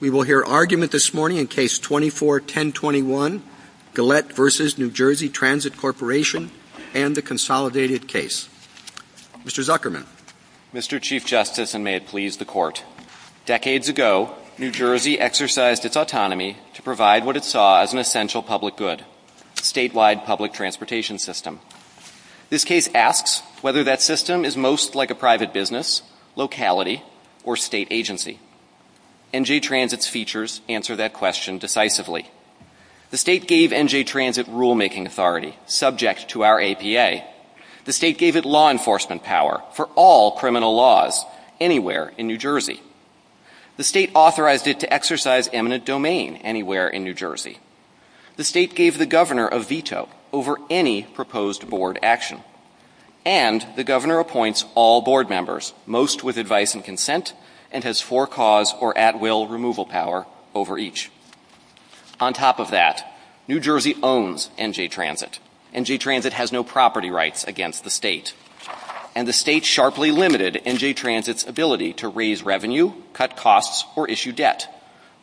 We will hear argument this morning in Case 24-1021, Galette v. NJ Transit Corp., and the consolidated case. Mr. Zuckerman. Mr. Chief Justice, and may it please the Court, decades ago, New Jersey exercised its autonomy to provide what it saw as an essential public good, a statewide public transportation system. This case asks whether that system is most like a private business, locality, or state agency. NJ Transit's features answer that question decisively. The state gave NJ Transit rulemaking authority, subject to our APA. The state gave it law enforcement power for all criminal laws anywhere in New Jersey. The state authorized it to exercise eminent domain anywhere in New Jersey. The state gave the governor a veto over any proposed board action. And the governor appoints all board members, most with advice and consent, and has for-cause or at-will removal power over each. On top of that, New Jersey owns NJ Transit. NJ Transit has no property rights against the state. And the state sharply limited NJ Transit's ability to raise revenue, cut costs, or issue debt,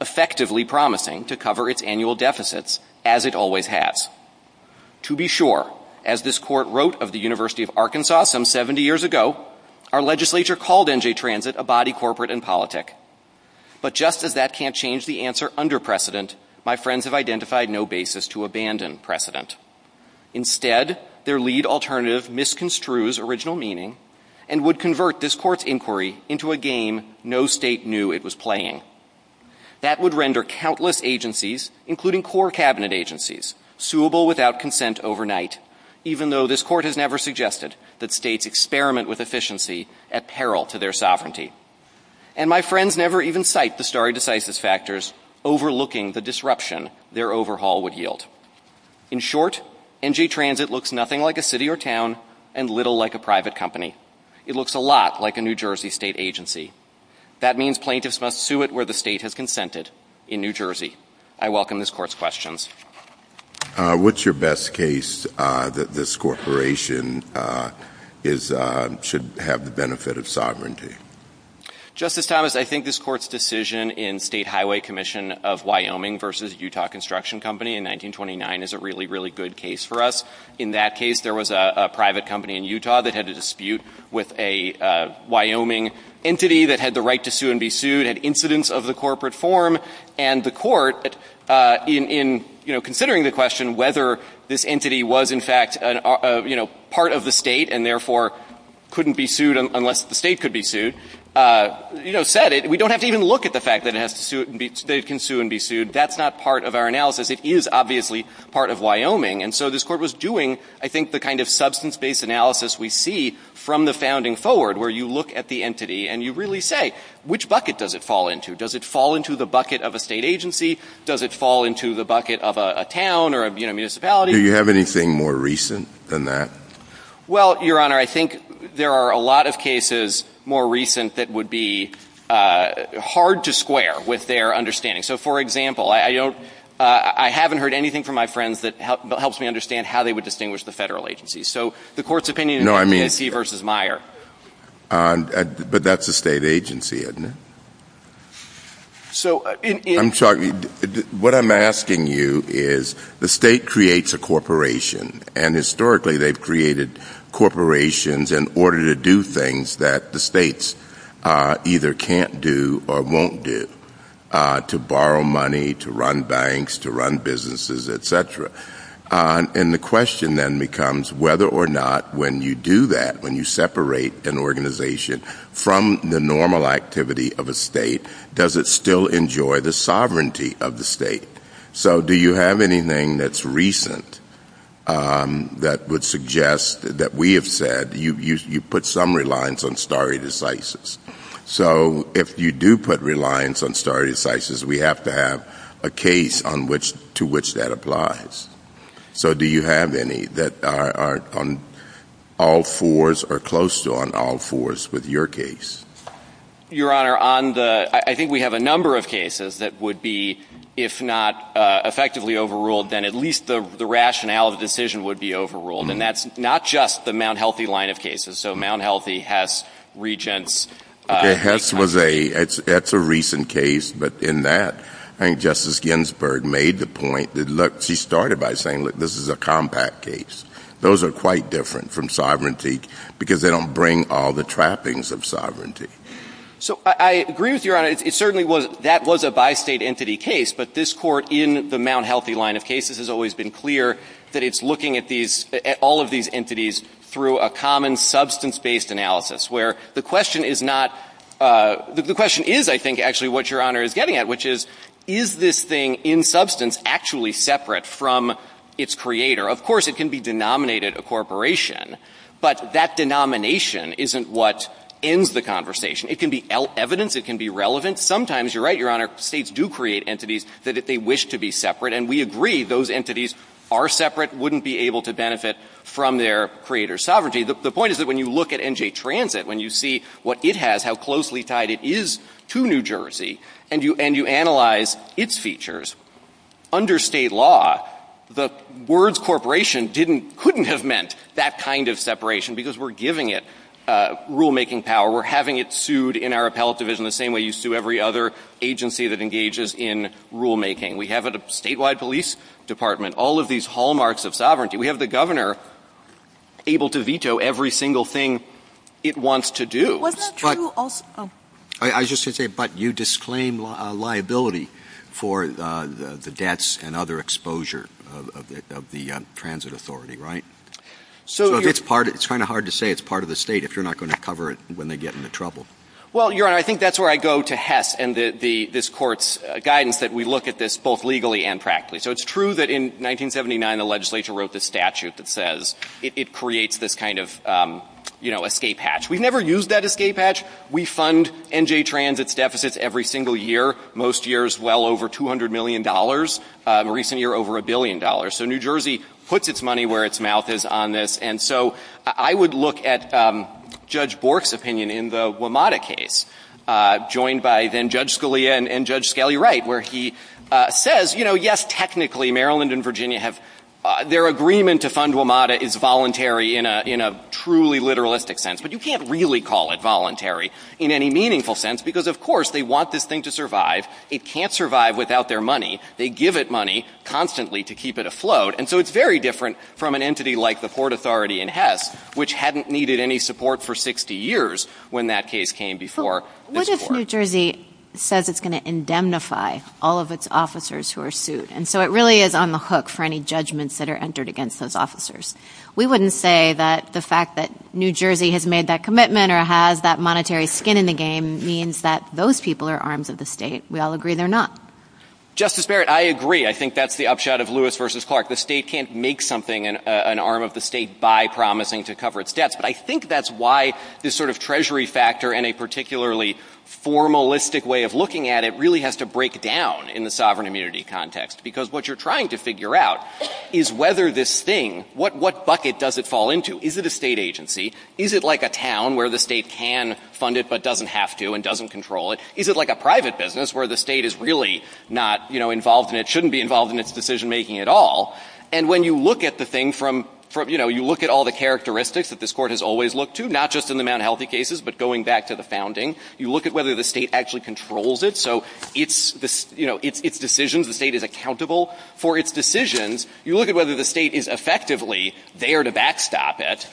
effectively promising to cover its annual deficits, as it always has. To be sure, as this court wrote of the University of Arkansas some 70 years ago, our legislature called NJ Transit a body corporate and politic. But just as that can't change the answer under precedent, my friends have identified no basis to abandon precedent. Instead, their lead alternative misconstrues original meaning and would convert this court's inquiry into a game no state knew it was playing. That would render countless agencies, including core cabinet agencies, suable without consent overnight, even though this court has never suggested that states experiment with efficiency at peril to their sovereignty. And my friends never even cite the stare decisis factors overlooking the disruption their overhaul would yield. In short, NJ Transit looks nothing like a city or town, and little like a private company. It looks a lot like a New Jersey state agency. That means plaintiffs must sue it where the state has consented, in New Jersey. I welcome this court's questions. What's your best case that this corporation should have the benefit of sovereignty? Justice Thomas, I think this court's decision in State Highway Commission of Wyoming v. Utah Construction Company in 1929 is a really, really good case for us. In that case, there was a private company in Utah that had a dispute with a Wyoming entity that had the right to sue and be sued, had incidents of the corporate form. And the court, in considering the question whether this entity was, in fact, part of the state and therefore couldn't be sued unless the state could be sued, said it. We don't have to even look at the fact that it can sue and be sued. That's not part of our analysis. It is obviously part of Wyoming. And so this court was doing, I think, the kind of substance-based analysis we see from the founding forward, where you look at the entity and you really say, which bucket does it fall into? Does it fall into the bucket of a state agency? Does it fall into the bucket of a town or a municipality? Do you have anything more recent than that? Well, Your Honor, I think there are a lot of cases more recent that would be hard to square with their understanding. So, for example, I haven't heard anything from my friends that helps me understand how they would distinguish the federal agencies. So the court's opinion is that it's he versus Meyer. No, I mean, but that's a state agency, isn't it? I'm sorry, what I'm asking you is, the state creates a corporation, and historically, they've created corporations in order to do things that the states either can't do or won't do, to borrow money, to run banks, to run businesses, et cetera. And the question then becomes whether or not when you do that, when you separate an organization from the normal activity of a state, does it still enjoy the sovereignty of the state? So do you have anything that's recent that would suggest that we have said, you put summary lines on stare decisis. So if you do put reliance on stare decisis, we have to have a case to which that applies. So do you have any that are on all fours or close to on all fours with your case? Your Honor, I think we have a number of cases that would be, if not effectively overruled, then at least the rationale of the decision would be overruled. And that's not just the Mount Healthy line of cases. So Mount Healthy, Hess, Regents. Hess was a, that's a recent case. But in that, I think Justice Ginsburg made the point that, look, she started by saying, look, this is a compact case. Those are quite different from sovereignty because they don't bring all the trappings of sovereignty. So I agree with Your Honor. It certainly was, that was a bi-state entity case. But this court in the Mount Healthy line of cases has always been clear that it's looking at all of these entities through a common substance-based analysis, where the question is not, the question is, I think, actually what Your Honor is getting at, which is, is this thing in substance actually separate from its creator? Of course, it can be denominated a corporation. But that denomination isn't what ends the conversation. It can be evidence. It can be relevant. Sometimes, you're right, Your Honor, states do create entities that they wish to be separate. And we agree those entities are separate, wouldn't be able to benefit from their creator's The point is that when you look at NJ Transit, when you see what it has, how closely tied it is to New Jersey, and you analyze its features, under state law, the words corporation couldn't have meant that kind of separation because we're giving it rulemaking power. We're having it sued in our appellate division the same way you sue every other agency that engages in rulemaking. We have a statewide police department, all of these hallmarks of sovereignty. We have the governor able to veto every single thing it wants to do. Well, that's true also- I was just going to say, but you disclaim liability for the debts and other exposure of the transit authority, right? So it's kind of hard to say it's part of the state if you're not going to cover it when they get into trouble. Well, Your Honor, I think that's where I go to Hess and this court's guidance, that we look at this both legally and practically. So it's true that in 1979, the legislature wrote this statute that says it creates this kind of escape hatch. We've never used that escape hatch. We fund NJ Transit's deficits every single year, most years well over $200 million, a recent year over a billion dollars. So New Jersey puts its money where its mouth is on this. And so I would look at Judge Bork's opinion in the WMATA case, joined by then Judge Scalia and Judge Scalia Wright, where he says, yes, technically, Maryland and Virginia, their agreement to fund WMATA is voluntary in a truly literalistic sense. But you can't really call it voluntary in any meaningful sense, because of course, they want this thing to survive. It can't survive without their money. They give it money constantly to keep it afloat. And so it's very different from an entity like the Port Authority in Hess, which hadn't needed any support for 60 years when that case came before this court. New Jersey says it's going to indemnify all of its officers who are sued. And so it really is on the hook for any judgments that are entered against those officers. We wouldn't say that the fact that New Jersey has made that commitment or has that monetary skin in the game means that those people are arms of the state. We all agree they're not. Justice Barrett, I agree. I think that's the upshot of Lewis v. Clark. The state can't make something an arm of the state by promising to cover its debts. But I think that's why this sort of treasury factor and a particularly formalistic way of looking at it really has to break down in the sovereign immunity context. Because what you're trying to figure out is whether this thing, what bucket does it fall into? Is it a state agency? Is it like a town where the state can fund it but doesn't have to and doesn't control it? Is it like a private business where the state is really not involved in it, shouldn't be involved in its decision making at all? And when you look at the thing from, you know, you look at all the characteristics that this court has always looked to, not just in the Mount Healthy cases, but going back to the founding, you look at whether the state actually controls it. So its decisions, the state is accountable for its decisions. You look at whether the state is effectively there to backstop it,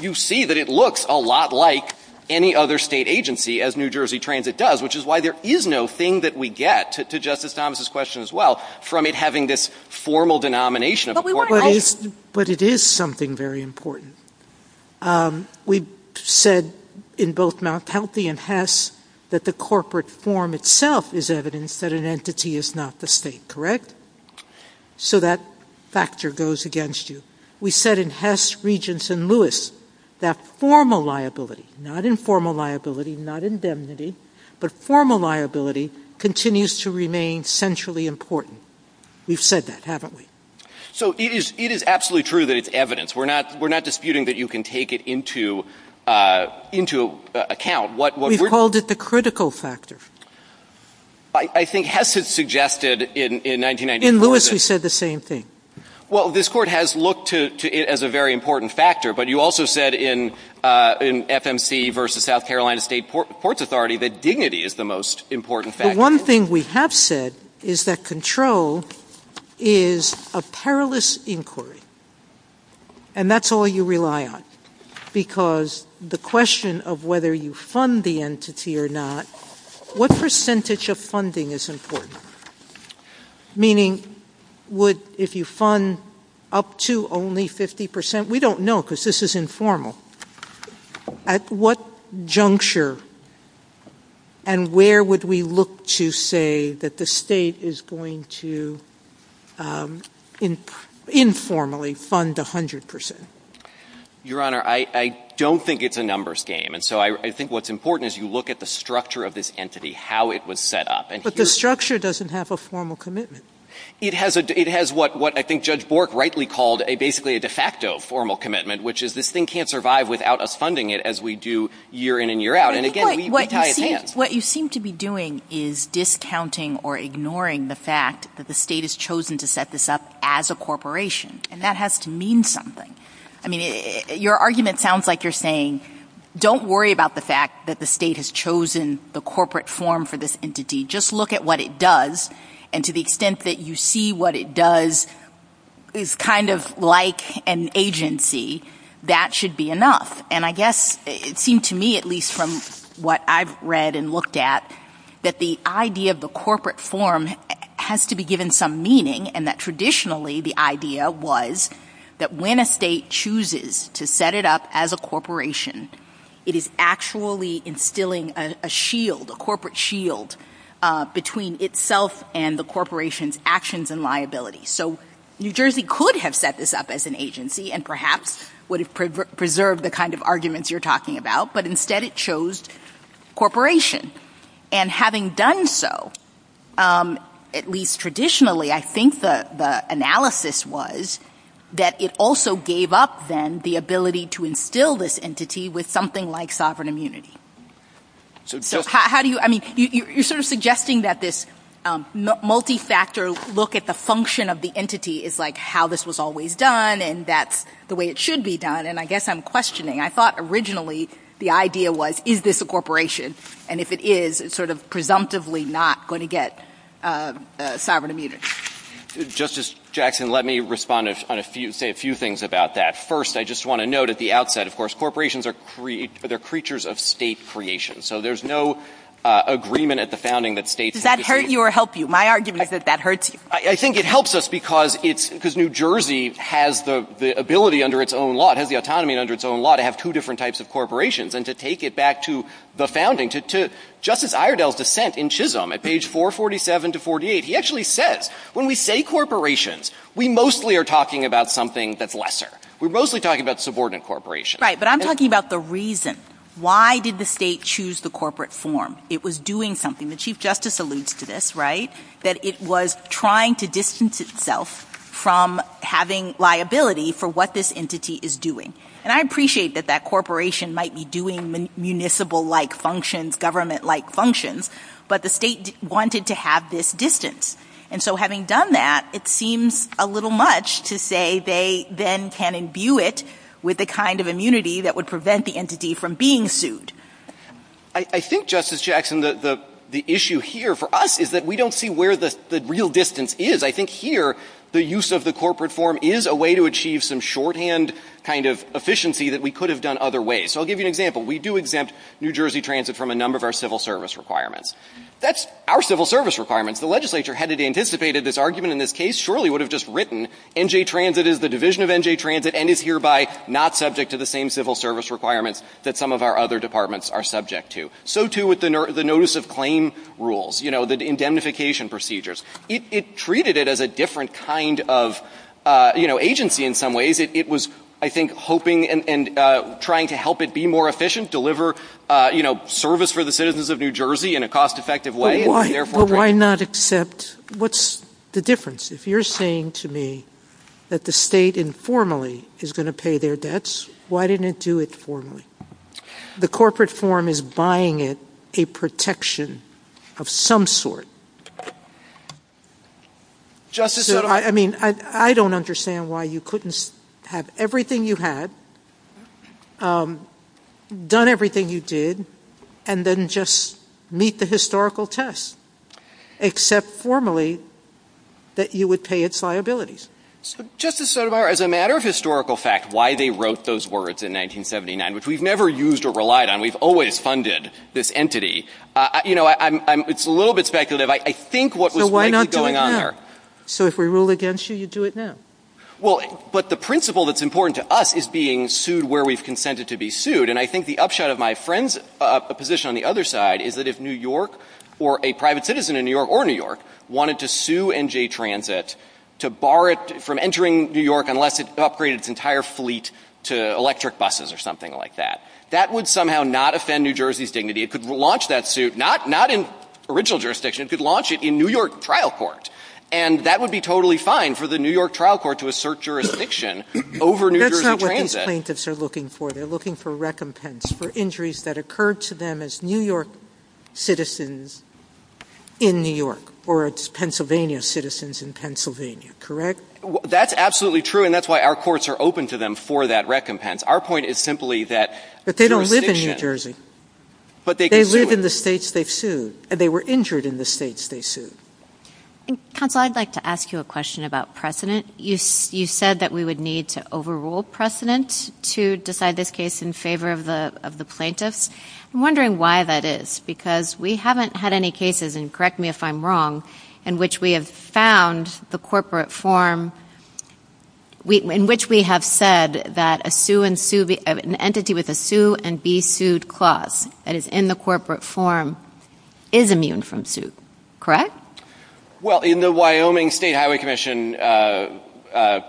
you see that it looks a lot like any other state agency as New Jersey Transit does, which is why there is no thing that we get, to Justice Thomas' question as well, from it having this formal denomination of a court health agency. But it is something very important. We said in both Mount Healthy and Hess that the corporate form itself is evidence that an entity is not the state, correct? So that factor goes against you. We said in Hess, Regents, and Lewis that formal liability, not informal liability, not indemnity, but formal liability continues to remain centrally important. We've said that, haven't we? So it is absolutely true that it's evidence. We're not disputing that you can take it into account. We called it the critical factor. I think Hess had suggested in 1994 that- In Lewis, he said the same thing. Well, this court has looked to it as a very important factor, but you also said in FMC versus South Carolina State Courts Authority that dignity is the most important factor. The one thing we have said is that control is a perilous inquiry. And that's all you rely on. Because the question of whether you fund the entity or not, what percentage of funding is important? Meaning, would- if you fund up to only 50 percent? We don't know because this is informal. At what juncture and where would we look to say that the state is going to informally fund 100 percent? Your Honor, I don't think it's a numbers game. And so I think what's important is you look at the structure of this entity, how it was set up. But the structure doesn't have a formal commitment. It has what I think Judge Bork rightly called basically a de facto formal commitment, which is this thing can't survive without us funding it as we do year in and year out. And again, we need to tie it in. What you seem to be doing is discounting or ignoring the fact that the state has chosen to set this up as a corporation. And that has to mean something. I mean, your argument sounds like you're saying, don't worry about the fact that the state has chosen the corporate form for this entity. Just look at what it does and to the extent that you see what it does is kind of like an agency that should be enough. And I guess it seemed to me, at least from what I've read and looked at, that the idea of the corporate form has to be given some meaning and that traditionally the idea was that when a state chooses to set it up as a corporation, it is actually instilling a shield, a corporate shield between itself and the corporation's actions and liabilities. So New Jersey could have set this up as an agency and perhaps would have preserved the kind of arguments you're talking about, but instead it chose corporation. And having done so, at least traditionally, I think the analysis was that it also gave up then the ability to instill this entity with something like sovereign immunity. So how do you, I mean, you're sort of suggesting that this multi-factor look at the function of the entity is like how this was always done and that's the way it should be done. And I guess I'm questioning. I thought originally the idea was, is this a corporation? And if it is, it's sort of presumptively not going to get sovereign immunity. Justice Jackson, let me respond on a few, say a few things about that. First, I just want to note at the outset, of course, corporations are, they're creatures of state creation. So there's no agreement at the founding that states- Does that hurt you or help you? My argument is that that hurts you. I think it helps us because it's, because New Jersey has the ability under its own law, it has the autonomy under its own law to have two different types of corporations and to take it back to the founding, to Justice Iredell's dissent in Chisholm at page 447 to 48. He actually says, when we say corporations, we mostly are talking about something that's We're mostly talking about subordinate corporations. Right, but I'm talking about the reason. Why did the state choose the corporate form? It was doing something. The Chief Justice alludes to this, right? That it was trying to distance itself from having liability for what this entity is doing. And I appreciate that that corporation might be doing municipal-like functions, government-like functions, but the state wanted to have this distance. And so having done that, it seems a little much to say they then can imbue it with the kind of immunity that would prevent the entity from being sued. I think, Justice Jackson, the issue here for us is that we don't see where the real distance is. I think here, the use of the corporate form is a way to achieve some shorthand kind of efficiency that we could have done other ways. So I'll give you an example. We do exempt New Jersey Transit from a number of our civil service requirements. That's our civil service requirements. The legislature had anticipated this argument in this case surely would have just written NJ Transit is the division of NJ Transit and is hereby not subject to the same civil service requirements that some of our other departments are subject to. So too with the notice of claim rules, you know, the indemnification procedures. It treated it as a different kind of, you know, agency in some ways. It was, I think, hoping and trying to help it be more efficient, deliver, you know, service for the citizens of New Jersey in a cost-effective way. Why not accept? What's the difference? If you're saying to me that the state informally is going to pay their debts, why didn't it do it formally? The corporate form is buying it a protection of some sort. I mean, I don't understand why you couldn't have everything you had, done everything you did, and then just meet the historical test, except formally that you would pay its liabilities. So Justice Sotomayor, as a matter of historical fact, why they wrote those words in 1979, which we've never used or relied on. We've always funded this entity. You know, it's a little bit speculative. I think what was going on there. So if we rule against you, you do it now. But the principle that's important to us is being sued where we've consented to be sued. And I think the upshot of my friend's position on the other side is that if New York or a private citizen in New York or New York wanted to sue NJ Transit to bar it from entering New York unless it upgraded its entire fleet to electric buses or something like that, that would somehow not offend New Jersey's dignity. It could launch that suit, not in original jurisdiction, it could launch it in New York trial court. And that would be totally fine for the New York trial court to assert jurisdiction over New Jersey Transit. That's not what these plaintiffs are looking for. They're looking for recompense for injuries that occurred to them as New York citizens in New York or as Pennsylvania citizens in Pennsylvania. Correct? That's absolutely true. And that's why our courts are open to them for that recompense. Our point is simply that they don't live in New Jersey, but they live in the states they've sued and they were injured in the states they sued. Counsel, I'd like to ask you a question about precedent. You said that we would need to overrule precedent to decide this case in favor of the plaintiffs. I'm wondering why that is, because we haven't had any cases, and correct me if I'm wrong, in which we have found the corporate form in which we have said that an entity with a sue and be sued clause that is in the corporate form is immune from suit. Correct? Well, in the Wyoming State Highway Commission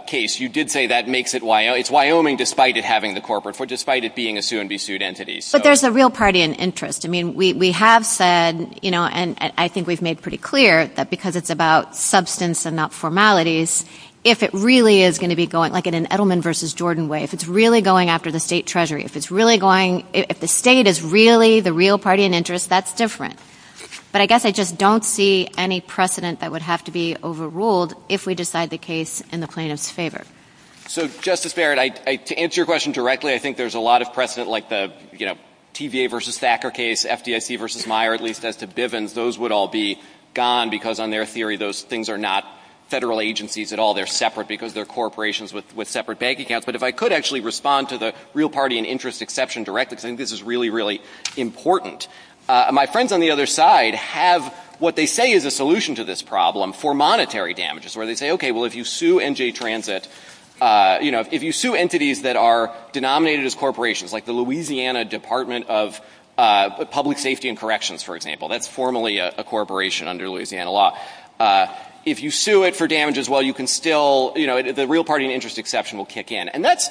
case, you did say that it's Wyoming despite it having the corporate form, despite it being a sue and be sued entity. But there's a real party and interest. I mean, we have said, and I think we've made pretty clear that because it's about substance and not formalities, if it really is going to be going like in an Edelman versus Jordan way, if it's really going after the state treasury, if the state is really the real party and interest, that's different. But I guess I just don't see any precedent that would have to be overruled if we decide the case in the plaintiff's favor. So, Justice Barrett, to answer your question directly, I think there's a lot of precedent like the TVA versus Thacker case, FDIC versus Meyer, at least as to Bivens. Those would all be gone because on their theory, those things are not federal agencies at all. They're separate because they're corporations with separate bank accounts. But if I could actually respond to the real party and interest exception directly, I think this is really, really important. My friends on the other side have what they say is a solution to this problem for monetary damages, where they say, okay, well, if you sue NJ Transit, you know, if you sue entities that are denominated as corporations, like the Louisiana Department of Public Safety and Corrections, for example, that's formally a corporation under Louisiana law, if you sue it for damages, well, you can still, you know, the real party and interest exception will kick in. And that's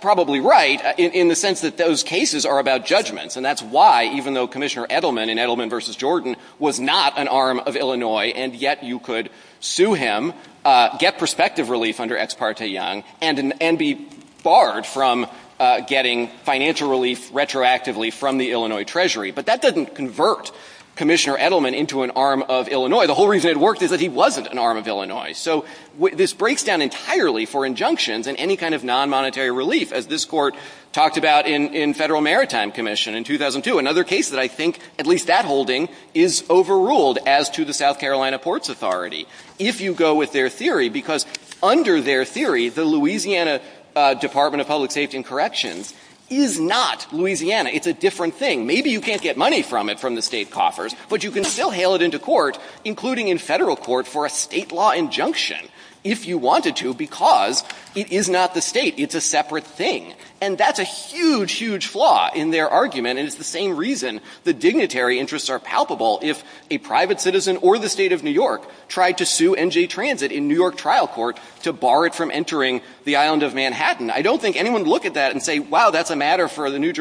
probably right in the sense that those cases are about judgments, and that's why, even though Commissioner Edelman in Edelman versus Jordan was not an arm of Illinois, and yet you could sue him, get prospective relief under Ex parte Young, and be barred from getting financial relief retroactively from the Illinois Treasury. But that doesn't convert Commissioner Edelman into an arm of Illinois. The whole reason it worked is that he wasn't an arm of Illinois. So this breaks down entirely for injunctions and any kind of non-monetary relief, as this talked about in Federal Maritime Commission in 2002, another case that I think, at least that holding, is overruled as to the South Carolina Ports Authority, if you go with their theory, because under their theory, the Louisiana Department of Public Safety and Corrections is not Louisiana. It's a different thing. Maybe you can't get money from it from the state coffers, but you can still hail it into court, including in federal court, for a state law injunction, if you wanted to, because it is not the state. It's a separate thing. That's a huge, huge flaw in their argument, and it's the same reason the dignitary interests are palpable if a private citizen or the state of New York tried to sue NJ Transit in New York trial court to bar it from entering the island of Manhattan. I don't think anyone would look at that and say, wow, that's a matter for the New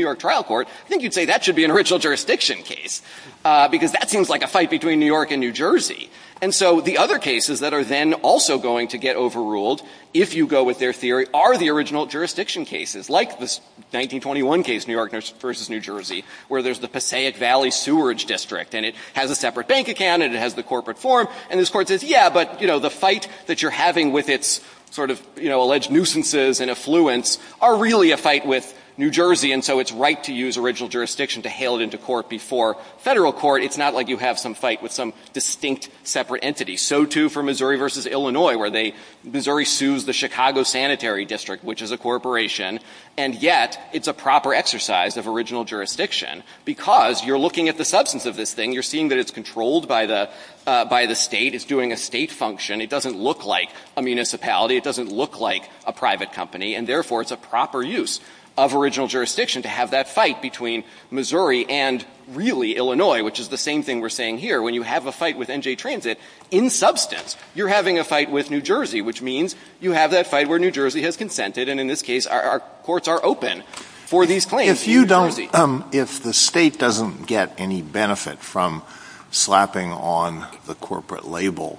York trial court. I think you'd say that should be an original jurisdiction case, because that seems like a fight between New York and New Jersey. The other cases that are then also going to get overruled, if you go with their theory, are the original jurisdiction cases, like this 1921 case, New York versus New Jersey, where there's the Passaic Valley Sewerage District. And it has a separate bank account, and it has the corporate form, and this court says, yeah, but the fight that you're having with its alleged nuisances and affluence are really a fight with New Jersey, and so it's right to use original jurisdiction to hail it into court before federal court. It's not like you have some fight with some distinct separate entity. So too for Missouri versus Illinois, where Missouri sues the Chicago Sanitary District, which is a corporation. And yet, it's a proper exercise of original jurisdiction, because you're looking at the substance of this thing. You're seeing that it's controlled by the state. It's doing a state function. It doesn't look like a municipality. It doesn't look like a private company. And therefore, it's a proper use of original jurisdiction to have that fight between Missouri and really Illinois, which is the same thing we're saying here. When you have a fight with NJ Transit, in substance, you're having a fight with New Jersey, which means you have that fight where New Jersey has consented. And in this case, our courts are open for these claims. If the state doesn't get any benefit from slapping on the corporate label,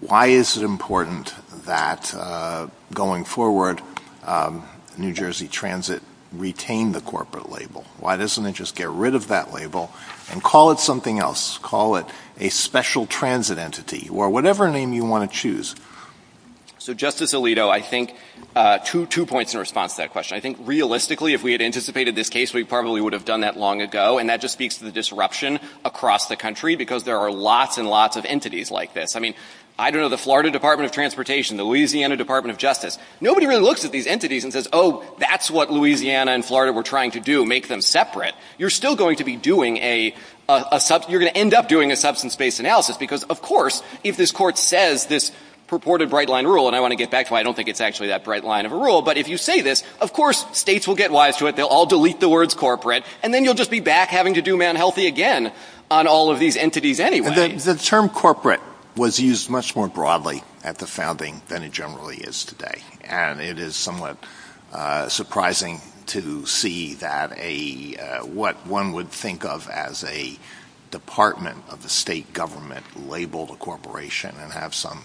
why is it important that, going forward, New Jersey Transit retain the corporate label? Why doesn't it just get rid of that label and call it something else? Call it a special transit entity or whatever name you want to choose? So, Justice Alito, I think two points in response to that question. I think, realistically, if we had anticipated this case, we probably would have done that long ago. And that just speaks to the disruption across the country, because there are lots and lots of entities like this. I mean, I don't know the Florida Department of Transportation, the Louisiana Department of Justice. Nobody really looks at these entities and says, oh, that's what Louisiana and Florida were trying to do, make them separate. You're still going to end up doing a substance-based analysis. Because, of course, if this court says this purported bright-line rule—and I want to get back to why I don't think it's actually that bright line of a rule—but if you say this, of course, states will get wise to it. They'll all delete the words corporate. And then you'll just be back having to do man healthy again on all of these entities anyway. The term corporate was used much more broadly at the founding than it generally is today. And it is somewhat surprising to see what one would think of as a department of the state government labeled a corporation and have some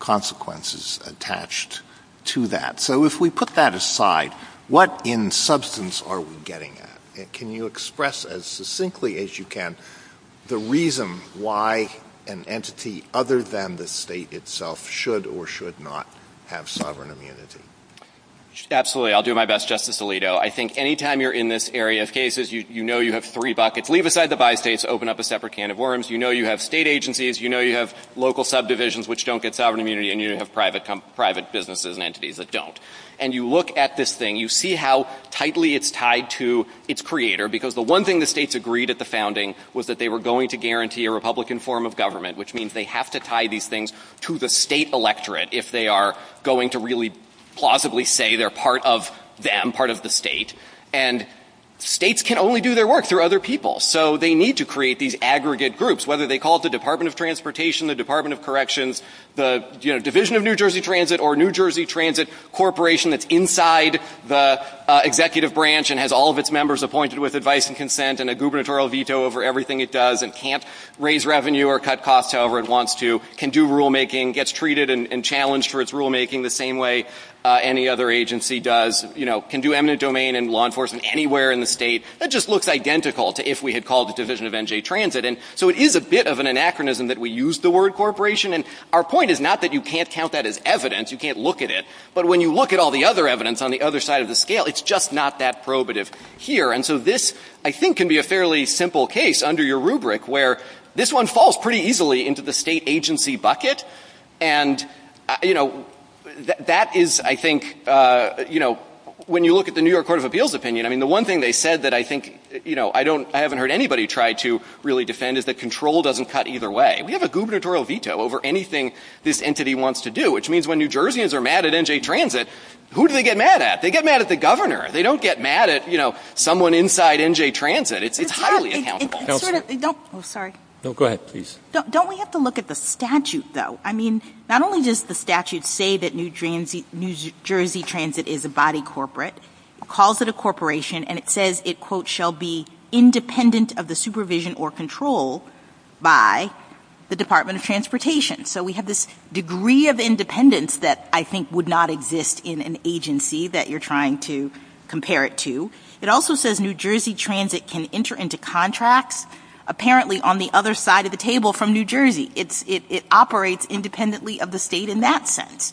consequences attached to that. So if we put that aside, what in substance are we getting at? Can you express as succinctly as you can the reason why an entity other than the state itself should or should not have sovereign immunity? Absolutely. I'll do my best, Justice Alito. I think any time you're in this area of cases, you know you have three buckets. Leave aside the bi-states. Open up a separate can of worms. You know you have state agencies. You know you have local subdivisions which don't get sovereign immunity. And you have private businesses and entities that don't. And you look at this thing. You see how tightly it's tied to its creator. Because the one thing the states agreed at the founding was that they were going to guarantee a Republican form of government, which means they have to tie these things to the state electorate if they are going to really plausibly say they're part of them, part of the state. And states can only do their work through other people. So they need to create these aggregate groups, whether they call it the Department of Transportation, the Department of Corrections, the Division of New Jersey Transit, or New Jersey Transit Corporation that's inside the executive branch and has all of its members appointed with advice and consent and a gubernatorial veto over everything it does and can't raise revenue or cut costs however it wants to, can do rulemaking, gets treated and challenged for its rulemaking the same way any other agency does, you know, can do eminent domain and law enforcement anywhere in the state. It just looks identical to if we had called the Division of NJ Transit. And so it is a bit of an anachronism that we use the word corporation. And our point is not that you can't count that as evidence. You can't look at it. But when you look at all the other evidence on the other side of the scale, it's just not that probative here. And so this, I think, can be a fairly simple case under your rubric where this one falls pretty easily into the state agency bucket. And, you know, that is, I think, you know, when you look at the New York Court of Appeals opinion, I mean, the one thing they said that I think, you know, I haven't heard anybody try to really defend is that control doesn't cut either way. We have a gubernatorial veto over anything this entity wants to do, which means when New Jerseyans are mad at NJ Transit, who do they get mad at? They get mad at the governor. They don't get mad at, you know, someone inside NJ Transit. It's highly unhelpful. It's sort of, sorry. No, go ahead, please. Don't we have to look at the statute, though? I mean, not only does the statute say that New Jersey Transit is a body corporate, calls it a corporation, and it says it, quote, shall be independent of the supervision or control by the Department of Transportation. So we have this degree of independence that I think would not exist in an agency that you're trying to compare it to. It also says New Jersey Transit can enter into contracts apparently on the other side of the table from New Jersey. It operates independently of the state in that sense.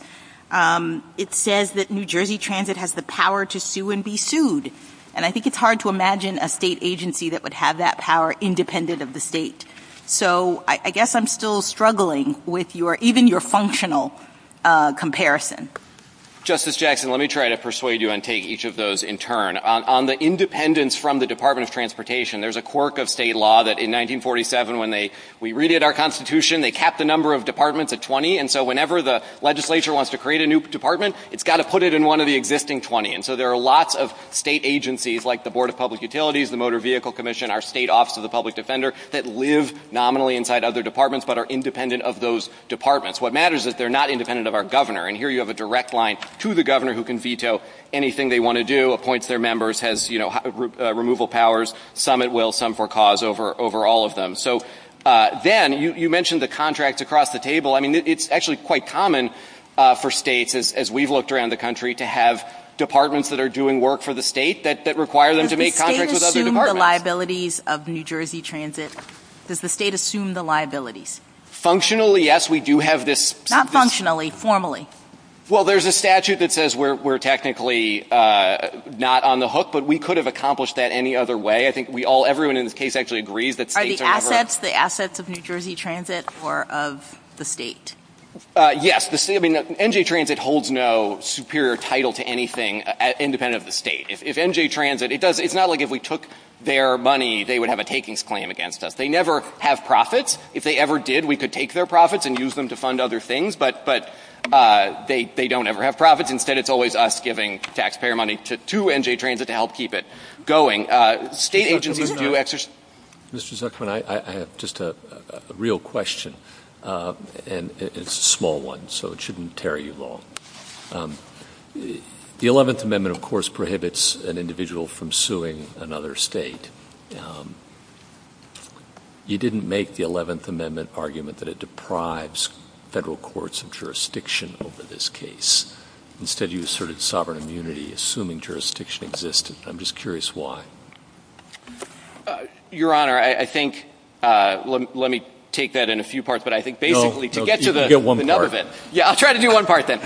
It says that New Jersey Transit has the power to sue and be sued, and I think it's hard to imagine a state agency that would have that power independent of the state. So I guess I'm still struggling with your, even your functional comparison. Justice Jackson, let me try to persuade you and take each of those in turn. On the independence from the Department of Transportation, there's a quirk of state law that in 1947 when they, we readied our constitution, they capped the number of departments at 20, and so whenever the legislature wants to create a new department, it's got to put it in one of the existing 20. And so there are lots of state agencies like the Board of Public Utilities, the Motor Vehicle Commission, our state office of the public defender that live nominally inside other departments but are independent of those departments. What matters is that they're not independent of our governor, and here you have a direct line to the governor who can veto anything they want to do, appoints their members, has, you know, removal powers, some at will, some for cause over all of them. So then, you mentioned the contracts across the table. I mean, it's actually quite common for states, as we've looked around the country, to have departments that are doing work for the state that require them to make contracts with other Does the state assume the liabilities of New Jersey Transit? Does the state assume the liabilities? Functionally, yes, we do have this. Not functionally, formally. Well, there's a statute that says we're technically not on the hook, but we could have accomplished that any other way. I think we all, everyone in this case actually agrees that states are- Are the assets the assets of New Jersey Transit or of the state? Yes, the state, I mean, NJ Transit holds no superior title to anything independent of the state. If NJ Transit, it does, it's not like if we took their money, they would have a takings plan against us. They never have profits. If they ever did, we could take their profits and use them to fund other things. But they don't ever have profits. Instead, it's always us giving taxpayer money to NJ Transit to help keep it going. State agencies do exercise- Mr. Zuckerman, I have just a real question, and it's a small one, so it shouldn't carry you long. The 11th Amendment, of course, prohibits an individual from suing another state. You didn't make the 11th Amendment argument that it deprives federal courts and jurisdiction over this case. Instead, you asserted sovereign immunity, assuming jurisdiction existed. I'm just curious why. Your Honor, I think, let me take that in a few parts, but I think basically to get to the- No, you get one part. Yeah, I'll try to do one part then.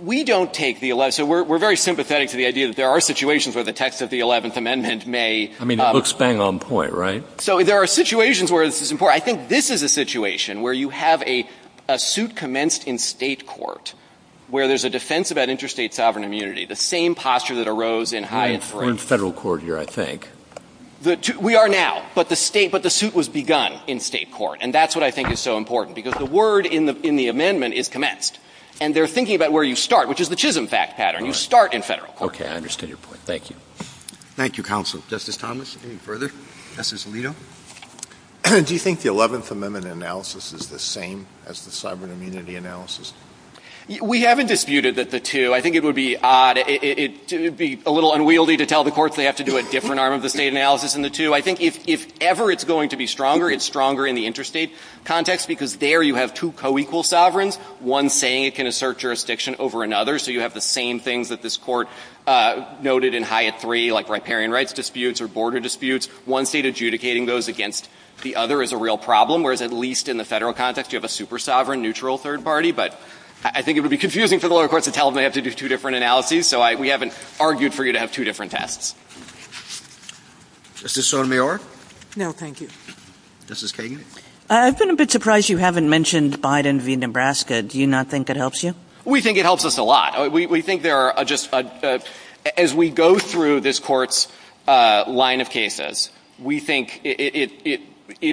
We don't take the 11th, so we're very sympathetic to the idea that there are situations where the text of the 11th Amendment may- I mean, it looks bang on point, right? So there are situations where this is important. I think this is a situation where you have a suit commenced in state court where there's a defense about interstate sovereign immunity, the same posture that arose in- We're in federal court here, I think. We are now, but the suit was begun in state court, and that's what I think is so important, because the word in the amendment is commenced, and they're thinking about where you start, which is the Chisholm fact pattern. You start in federal court. Okay, I understand your point. Thank you. Thank you, counsel. Justice Thomas, any further? Justice Alito? Do you think the 11th Amendment analysis is the same as the sovereign immunity analysis? We haven't disputed that the two- I think it would be odd- it would be a little unwieldy to tell the courts they have to do a different arm of the state analysis in the two. I think if ever it's going to be stronger, it's stronger in the interstate context, because there you have two co-equal sovereigns, one saying it can assert jurisdiction over another, so you have the same things that this court noted in HIA-3, like riparian rights disputes or border disputes. One state adjudicating those against the other is a real problem, whereas at least in the federal context, you have a super-sovereign, neutral third party, but I think it would be confusing for the lower courts to tell them they have to do two different analyses, so we haven't argued for you to have two different tests. Justice Sotomayor? No, thank you. Justice Kagan? I've been a bit surprised you haven't mentioned Biden v. Nebraska. Do you not think it helps you? We think it helps us a lot. We think there are just – as we go through this court's line of cases, we think it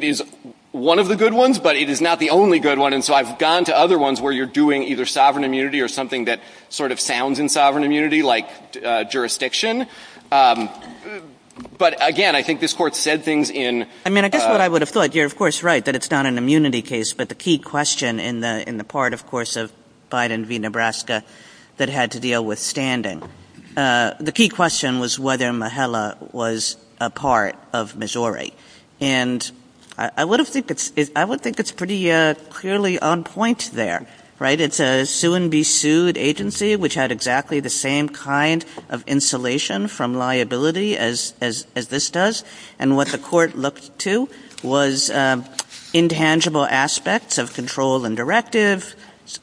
is one of the good ones, but it is not the only good one, and so I've gone to other ones where you're doing either sovereign immunity or something that sort of sounds in sovereign immunity, like jurisdiction. But again, I think this court said things in – I mean, I guess what I would have thought, you're of course right that it's not an had to deal with standing. The key question was whether Mahala was a part of Missouri, and I would think it's pretty clearly on point there, right? It's a sue-and-be-sued agency, which had exactly the same kind of insulation from liability as this does, and what the court looked to was intangible aspects of control and directive,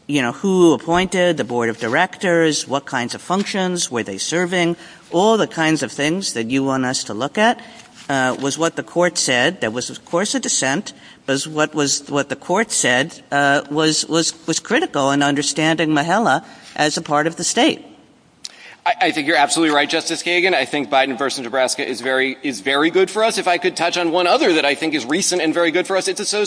you know, who appointed, the board of directors, what kinds of functions, were they serving, all the kinds of things that you want us to look at was what the court said. That was, of course, a dissent, but what the court said was critical in understanding Mahala as a part of the state. I think you're absolutely right, Justice Kagan. I think Biden v. Nebraska is very good for us. If I could touch on one other that I think is recent and very good for us, it's the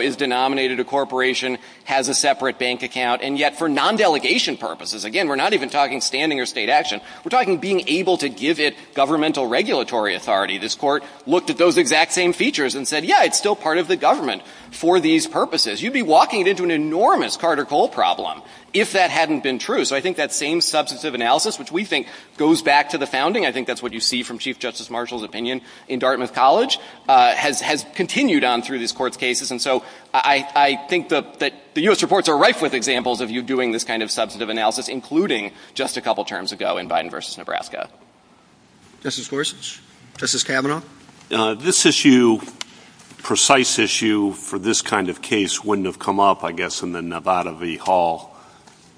is denominated a corporation, has a separate bank account, and yet for non-delegation purposes, again, we're not even talking standing or state action, we're talking being able to give it governmental regulatory authority. This court looked at those exact same features and said, yeah, it's still part of the government for these purposes. You'd be walking into an enormous Carter-Cole problem if that hadn't been true. So I think that same substantive analysis, which we think goes back to the founding, I think that's what you see from Chief Justice Marshall's opinion in Dartmouth College, has continued on through this court's cases. And so I think that the U.S. reports are rife with examples of you doing this kind of substantive analysis, including just a couple terms ago in Biden v. Nebraska. Justice Gorsuch? Justice Kavanaugh? This issue, precise issue for this kind of case wouldn't have come up, I guess, in the Nevada v. Hall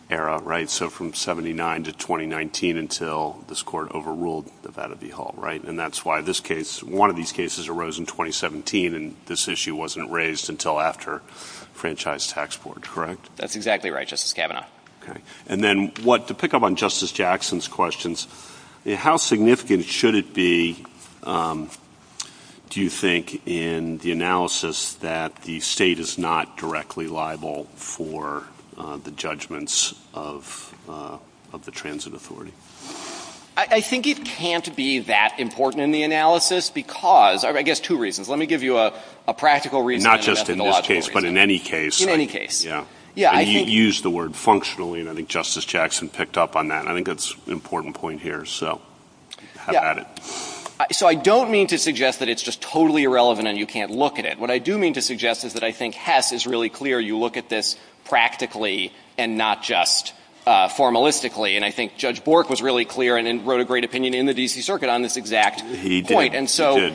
era, right? So from 79 to 2019 until this court overruled Nevada v. Hall, right? And that's why this case, one of these cases, arose in 2017, and this issue wasn't raised until after Franchise Tax Board, correct? That's exactly right, Justice Kavanaugh. Okay. And then what, to pick up on Justice Jackson's questions, how significant should it be, do you think, in the analysis that the state is not directly liable for the judgments of the transit authority? I think it can't be that important in the analysis because, I guess, two reasons. Let me give you a practical reason. Not just in this case, but in any case. Yeah. Yeah, I think— You used the word functionally, and I think Justice Jackson picked up on that. And I think that's an important point here, so I've had it. So I don't mean to suggest that it's just totally irrelevant and you can't look at it. What I do mean to suggest is that I think Hess is really clear. You look at this practically and not just formalistically. And I think Judge Bork was really clear and wrote a great opinion in the D.C. Circuit on this exact point. And so,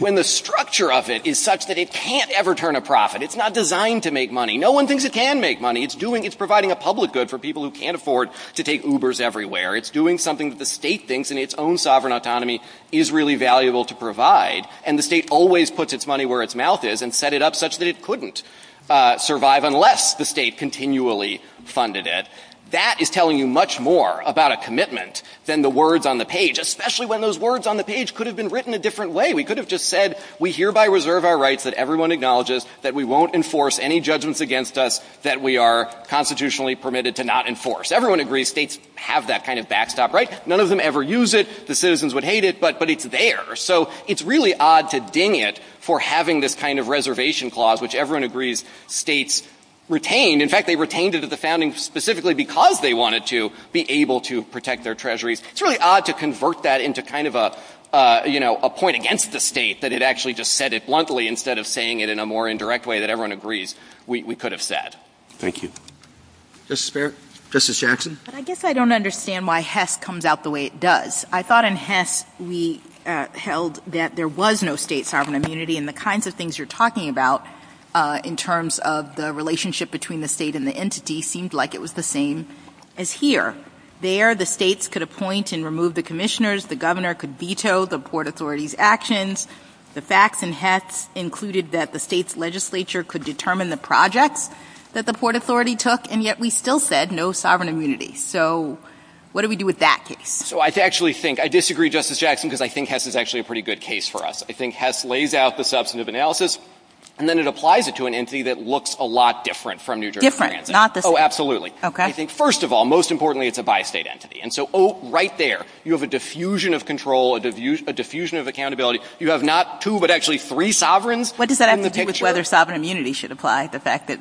when the structure of it is such that it can't ever turn a profit, it's not designed to make money. No one thinks it can make money. It's providing a public good for people who can't afford to take Ubers everywhere. It's doing something that the state thinks, in its own sovereign autonomy, is really valuable to provide. And the state always puts its money where its mouth is and set it up such that it couldn't survive unless the state continually funded it. That is telling you much more about a commitment than the words on the page, especially when those words on the page could have been written a different way. We could have just said, we hereby reserve our rights that everyone acknowledges that we won't enforce any judgments against us that we are constitutionally permitted to not enforce. Everyone agrees states have that kind of backstop, right? None of them ever use it. The citizens would hate it, but it's there. So it's really odd to ding it for having this kind of reservation clause, which everyone agrees states retain. In fact, they retained it at the founding specifically because they wanted to be able to protect their treasuries. It's really odd to convert that into kind of a, you know, a point against the state that it actually just said it bluntly instead of saying it in a more indirect way that everyone agrees we could have said. Thank you. Justice Barrett? Justice Jackson? I guess I don't understand why HES comes out the way it does. I thought in HES we held that there was no state sovereign immunity and the kinds of things you're talking about in terms of the relationship between the state and the entity seemed like it was the same as here. There, the states could appoint and remove the commissioners. The governor could veto the Port Authority's actions. The facts in HES included that the state's legislature could determine the projects that the Port Authority took, and yet we still said no sovereign immunity. So what do we do with that? So I actually think, I disagree, Justice Jackson, because I think HES is actually a pretty good case for us. I think HES lays out the substantive analysis, and then it applies it to an entity that looks a lot different from New Jersey. Different, not the same. Oh, absolutely. Okay. I think, first of all, most importantly, it's a bi-state entity. And so, oh, right there, you have a diffusion of control, a diffusion of accountability. You have not two, but actually three sovereigns. What does that have to do with whether sovereign immunity should apply? The fact that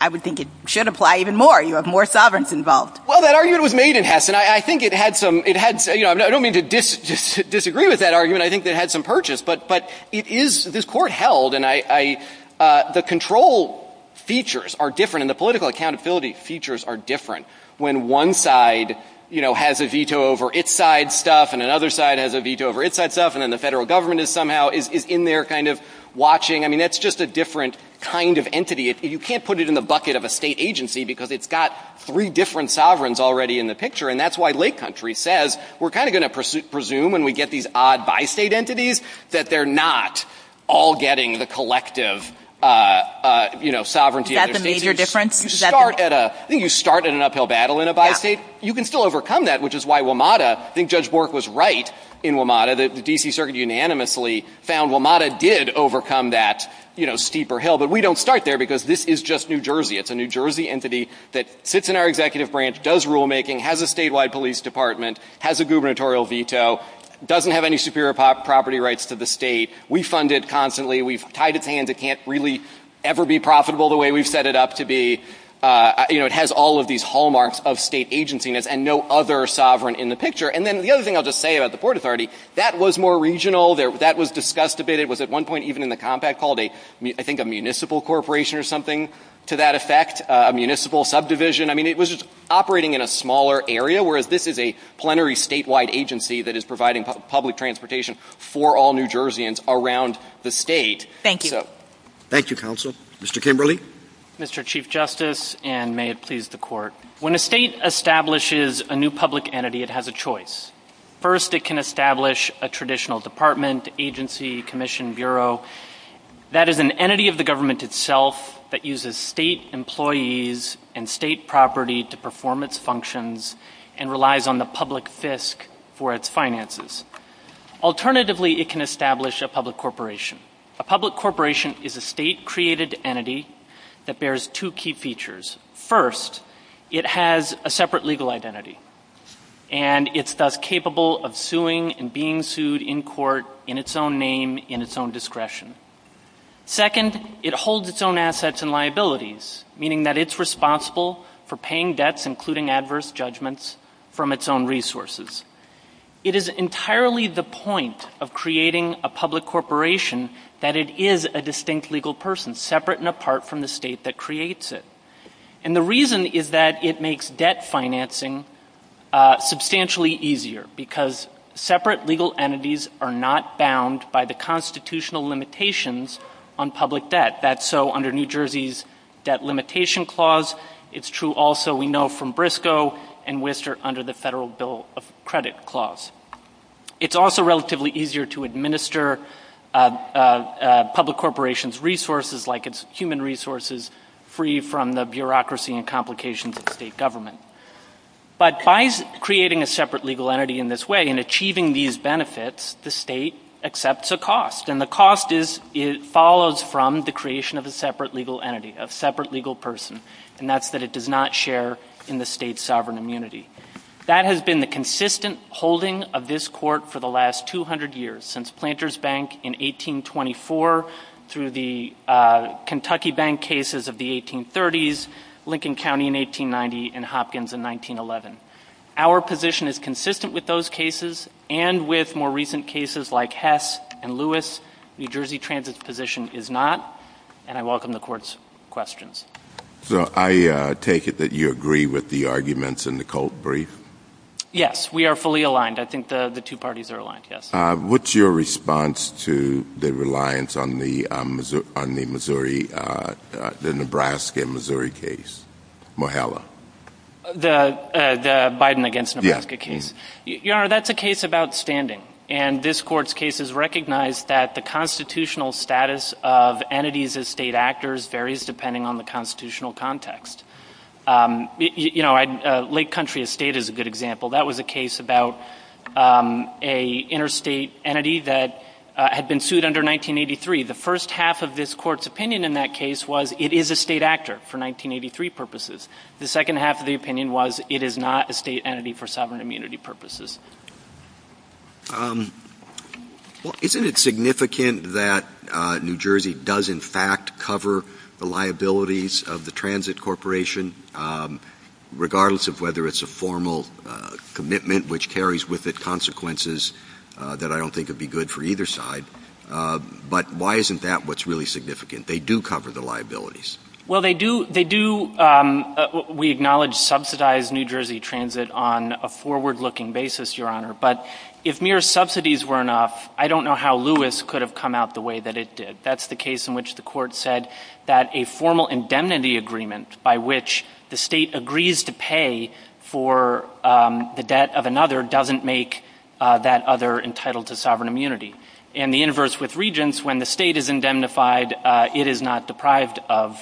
I would think it should apply even more. You have more sovereigns involved. Well, that argument was made in HES, and I think it had some, it had, you know, I don't mean to disagree with that argument. I think it had some purchase. But it is, this court held, and I, the control features are different, and the political accountability features are different when one side, you know, has a veto over its side stuff, and another side has a veto over its side stuff, and then the federal government is somehow, is in there kind of watching. I mean, that's just a different kind of entity. You can't put it in the bucket of a state agency because it's got three different sovereigns already in the picture. And that's why Lake Country says we're kind of going to presume when we get these odd bi-state entities that they're not all getting the collective, you know, sovereignty. Is that the major difference? You start at a, I think you start at an uphill battle in a bi-state. You can still overcome that, which is why WMATA, I think Judge Bork was right in WMATA, that the D.C. Circuit unanimously found WMATA did overcome that, you know, steeper hill. But we don't start there because this is just New Jersey. It's a New Jersey entity that sits in our executive branch, does rulemaking, has a statewide police department, has a gubernatorial veto, doesn't have any superior property rights to the state. We fund it constantly. We've tied its hands. It can't really ever be profitable the way we've set it up to be. You know, it has all of these hallmarks of state agenciness and no other sovereign in the picture. And then the other thing I'll just say about the Port Authority, that was more regional. That was discussed a bit. It was at one point even in the compact called a, I think a municipal corporation or something to that effect, a municipal subdivision. I mean, it was operating in a smaller area, whereas this is a plenary statewide agency that is providing public transportation for all New Jerseyans around the state. Thank you. Thank you, counsel. Mr. Kimberly? Mr. Chief Justice, and may it please the court. When a state establishes a new public entity, it has a choice. First, it can establish a traditional department, agency, commission, bureau. That is an entity of the government itself that uses state employees and state property to perform its functions and relies on the public fisc for its finances. Alternatively, it can establish a public corporation. A public corporation is a state-created entity that bears two key features. First, it has a separate legal identity. And it's thus capable of suing and being sued in court in its own name, in its own discretion. Second, it holds its own assets and liabilities, meaning that it's responsible for paying debts, including adverse judgments, from its own resources. It is entirely the point of creating a public corporation that it is a distinct legal person, separate and apart from the state that creates it. And the reason is that it makes debt financing substantially easier, because separate legal entities are not bound by the constitutional limitations on public debt. That's so under New Jersey's debt limitation clause. It's true also, we know, from Briscoe and Worcester under the federal bill of credit clause. It's also relatively easier to administer a public corporation's resources, like its human resources, free from the bureaucracy and complications of state government. But by creating a separate legal entity in this way and achieving these benefits, the state accepts a cost. And the cost follows from the creation of a separate legal entity, a separate legal person. And that's that it does not share in the state's sovereign immunity. That has been the consistent holding of this court for the last 200 years, since Planters Bank in 1824, through the Kentucky Bank cases of the 1830s, Lincoln County in 1890, and Hopkins in 1911. Our position is consistent with those cases and with more recent cases like Hess and Lewis. New Jersey Transit's position is not. And I welcome the court's questions. So I take it that you agree with the arguments in the Colt brief? Yes, we are fully aligned. I think the two parties are aligned, yes. What's your response to the reliance on the Nebraska and Missouri case? Mohella? The Biden against Nebraska case? Your Honor, that's a case about standing. And this court's case has recognized that the constitutional status of entities as state actors varies depending on the constitutional context. Lake Country Estate is a good example. That was a case about an interstate entity that had been sued under 1983. The first half of this court's opinion in that case was it is a state actor for 1983 purposes. The second half of the opinion was it is not a state entity for sovereign immunity purposes. Well, isn't it significant that New Jersey does, in fact, cover the liabilities of the Transit Corporation, regardless of whether it's a formal commitment which carries with it consequences that I don't think would be good for either side? But why isn't that what's really significant? They do cover the liabilities. Well, they do. We acknowledge subsidized New Jersey Transit on a forward-looking basis, Your Honor. But if mere subsidies were enough, I don't know how Lewis could have come out the way that it did. That's the case in which the court said that a formal indemnity agreement by which the state agrees to pay for the debt of another doesn't make that other entitled to sovereign immunity. And the inverse with Regents, when the state is indemnified, it is not deprived of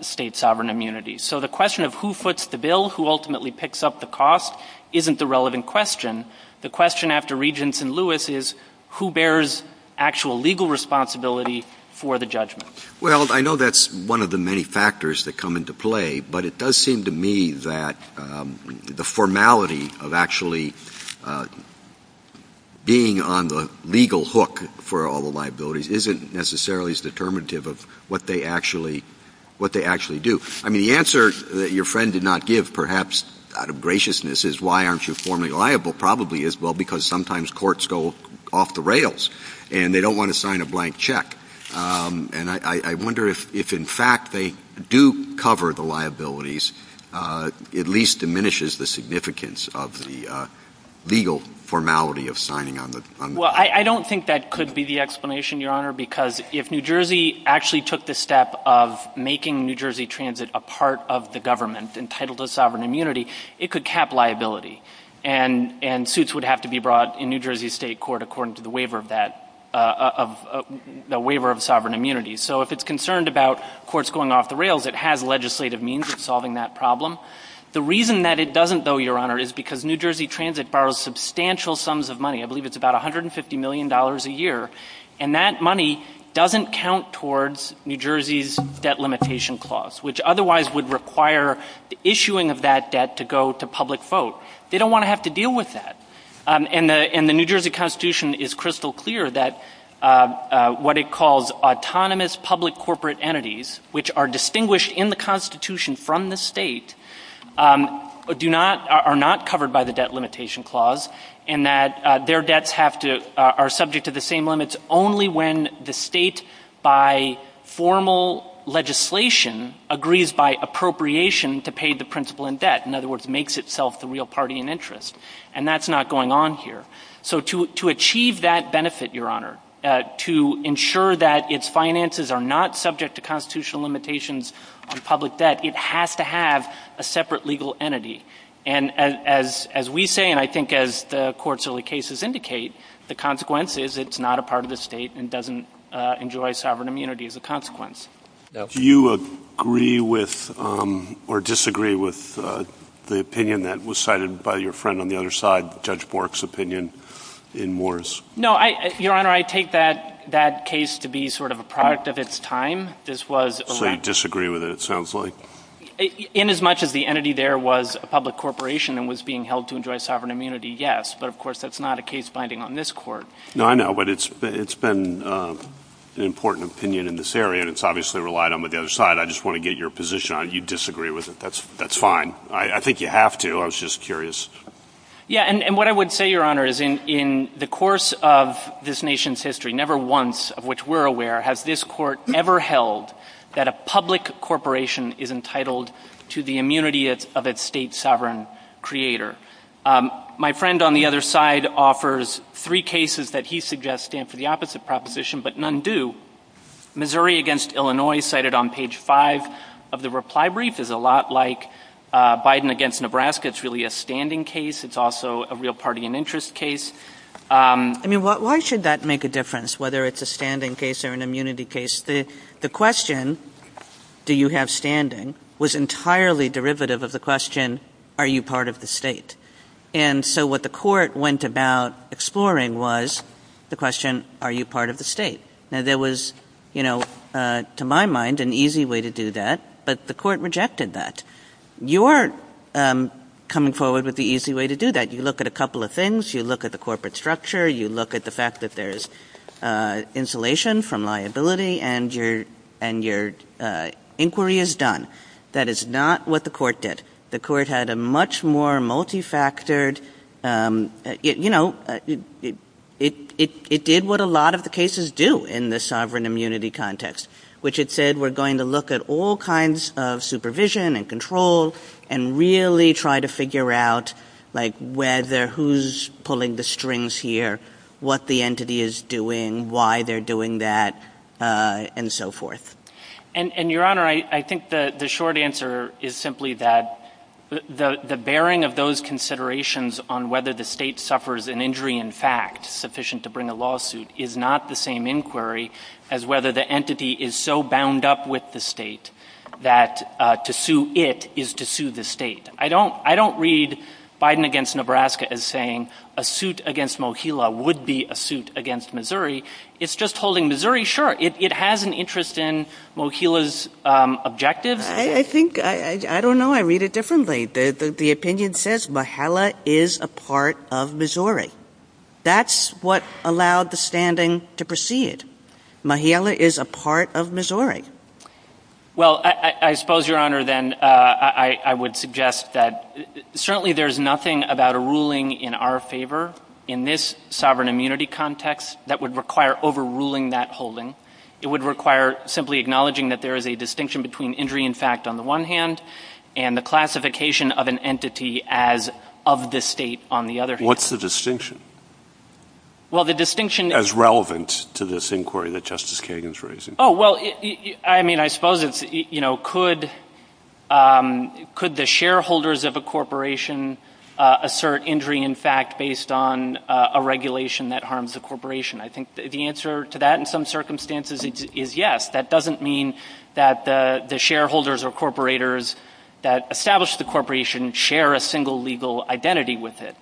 state sovereign immunity. So the question of who foots the bill, who ultimately picks up the cost, isn't the relevant question. The question after Regents and Lewis is who bears actual legal responsibility for the judgment? Well, I know that's one of the many factors that come into play, but it does seem to me that the formality of actually being on the legal hook for all the liabilities isn't necessarily as determinative of what they actually do. I mean, the answer that your friend did not give, perhaps out of graciousness, is why aren't you formally liable? Probably is, well, because sometimes courts go off the rails and they don't want to sign a blank check. And I wonder if, in fact, they do cover the liabilities, at least diminishes the significance of the legal formality of signing on the... Well, I don't think that could be the explanation, Your Honor, because if New Jersey actually took the step of making New Jersey transit a part of the government entitled to sovereign immunity, it could cap liability. And suits would have to be brought in New Jersey State Court according to the waiver of sovereign immunity. So if it's concerned about courts going off the rails, it has legislative means of solving that problem. The reason that it doesn't, though, Your Honor, is because New Jersey transit borrows substantial sums of money. I believe it's about $150 million a year. And that money doesn't count towards New Jersey's debt limitation clause, which otherwise would require the issuing of that debt to go to public vote. They don't want to have to deal with that. And the New Jersey Constitution is crystal clear that what it calls autonomous public corporate entities, which are distinguished in the Constitution from the state, are not covered by the debt limitation clause, and that their debts are subject to the same limits only when the state, by formal legislation, agrees by appropriation to pay the principal in debt. In other words, makes itself the real party in interest. And that's not going on here. So to achieve that benefit, Your Honor, to ensure that its finances are not subject to constitutional limitations on public debt, it has to have a separate legal entity. And as we say, and I think as the court's early cases indicate, the consequence is it's not a part of the state and doesn't enjoy sovereign immunity as a consequence. Do you agree with or disagree with the opinion that was cited by your friend on the other side, Judge Bork's opinion in Moore's? No, Your Honor, I take that case to be sort of a product of its time. This was elected. So you disagree with it, it sounds like. In as much as the entity there was a public corporation and was being held to enjoy sovereign immunity, yes. But of course, that's not a case binding on this court. No, I know, but it's been an important opinion in this area. It's obviously relied on the other side. I just want to get your position on it. You disagree with it. That's fine. I think you have to. I was just curious. Yeah, and what I would say, Your Honor, is in the course of this nation's history, never once, of which we're aware, has this court ever held that a public corporation is entitled to the immunity of its state sovereign creator. My friend on the other side offers three cases that he suggests stand for the opposite proposition, but none do. Missouri against Illinois, cited on page five of the reply brief, is a lot like Biden against Nebraska. It's really a standing case. It's also a real party and interest case. I mean, why should that make a difference, whether it's a standing case or an immunity case? The question, do you have standing, was entirely derivative of the question, are you part of the state? And so what the court went about exploring was the question, are you part of the state? Now, there was, to my mind, an easy way to do that, but the court rejected that. You are coming forward with the easy way to do that. You look at a couple of things. You look at the corporate structure. You look at the fact that there's insulation from liability and your inquiry is done. That is not what the court did. The court had a much more multifactored... It did what a lot of the cases do in the sovereign immunity context, which it said, we're going to look at all kinds of supervision and control and really try to figure out whether who's pulling the strings here, what the entity is doing, why they're doing that, and so forth. And your honor, I think the short answer is simply that the bearing of those considerations on whether the state suffers an injury in fact, sufficient to bring a lawsuit, is not the same inquiry as whether the entity is so bound up with the state that to sue it is to sue the state. I don't read Biden against Nebraska as saying a suit against Mohilla would be a suit against Missouri. It's just holding Missouri short. It has an interest in Mohilla's objectives. I think, I don't know. I read it differently. The opinion says Mohilla is a part of Missouri. That's what allowed the standing to proceed. Mohilla is a part of Missouri. Well, I suppose, your honor, then I would suggest that certainly there's nothing about a ruling in our favor in this sovereign immunity context that would require overruling that holding. It would require simply acknowledging that there is a distinction between injury in fact, on the one hand, and the classification of an entity as of the state on the other hand. What's the distinction? Well, the distinction- As relevant to this inquiry that Justice Kagan's raising. Oh, well, I mean, I suppose it's, you know, could the shareholders of a corporation assert injury in fact, based on a regulation that harms the corporation? I think the answer to that in some circumstances is yes. That doesn't mean that the shareholders or corporators that establish the corporation share a single legal identity with it.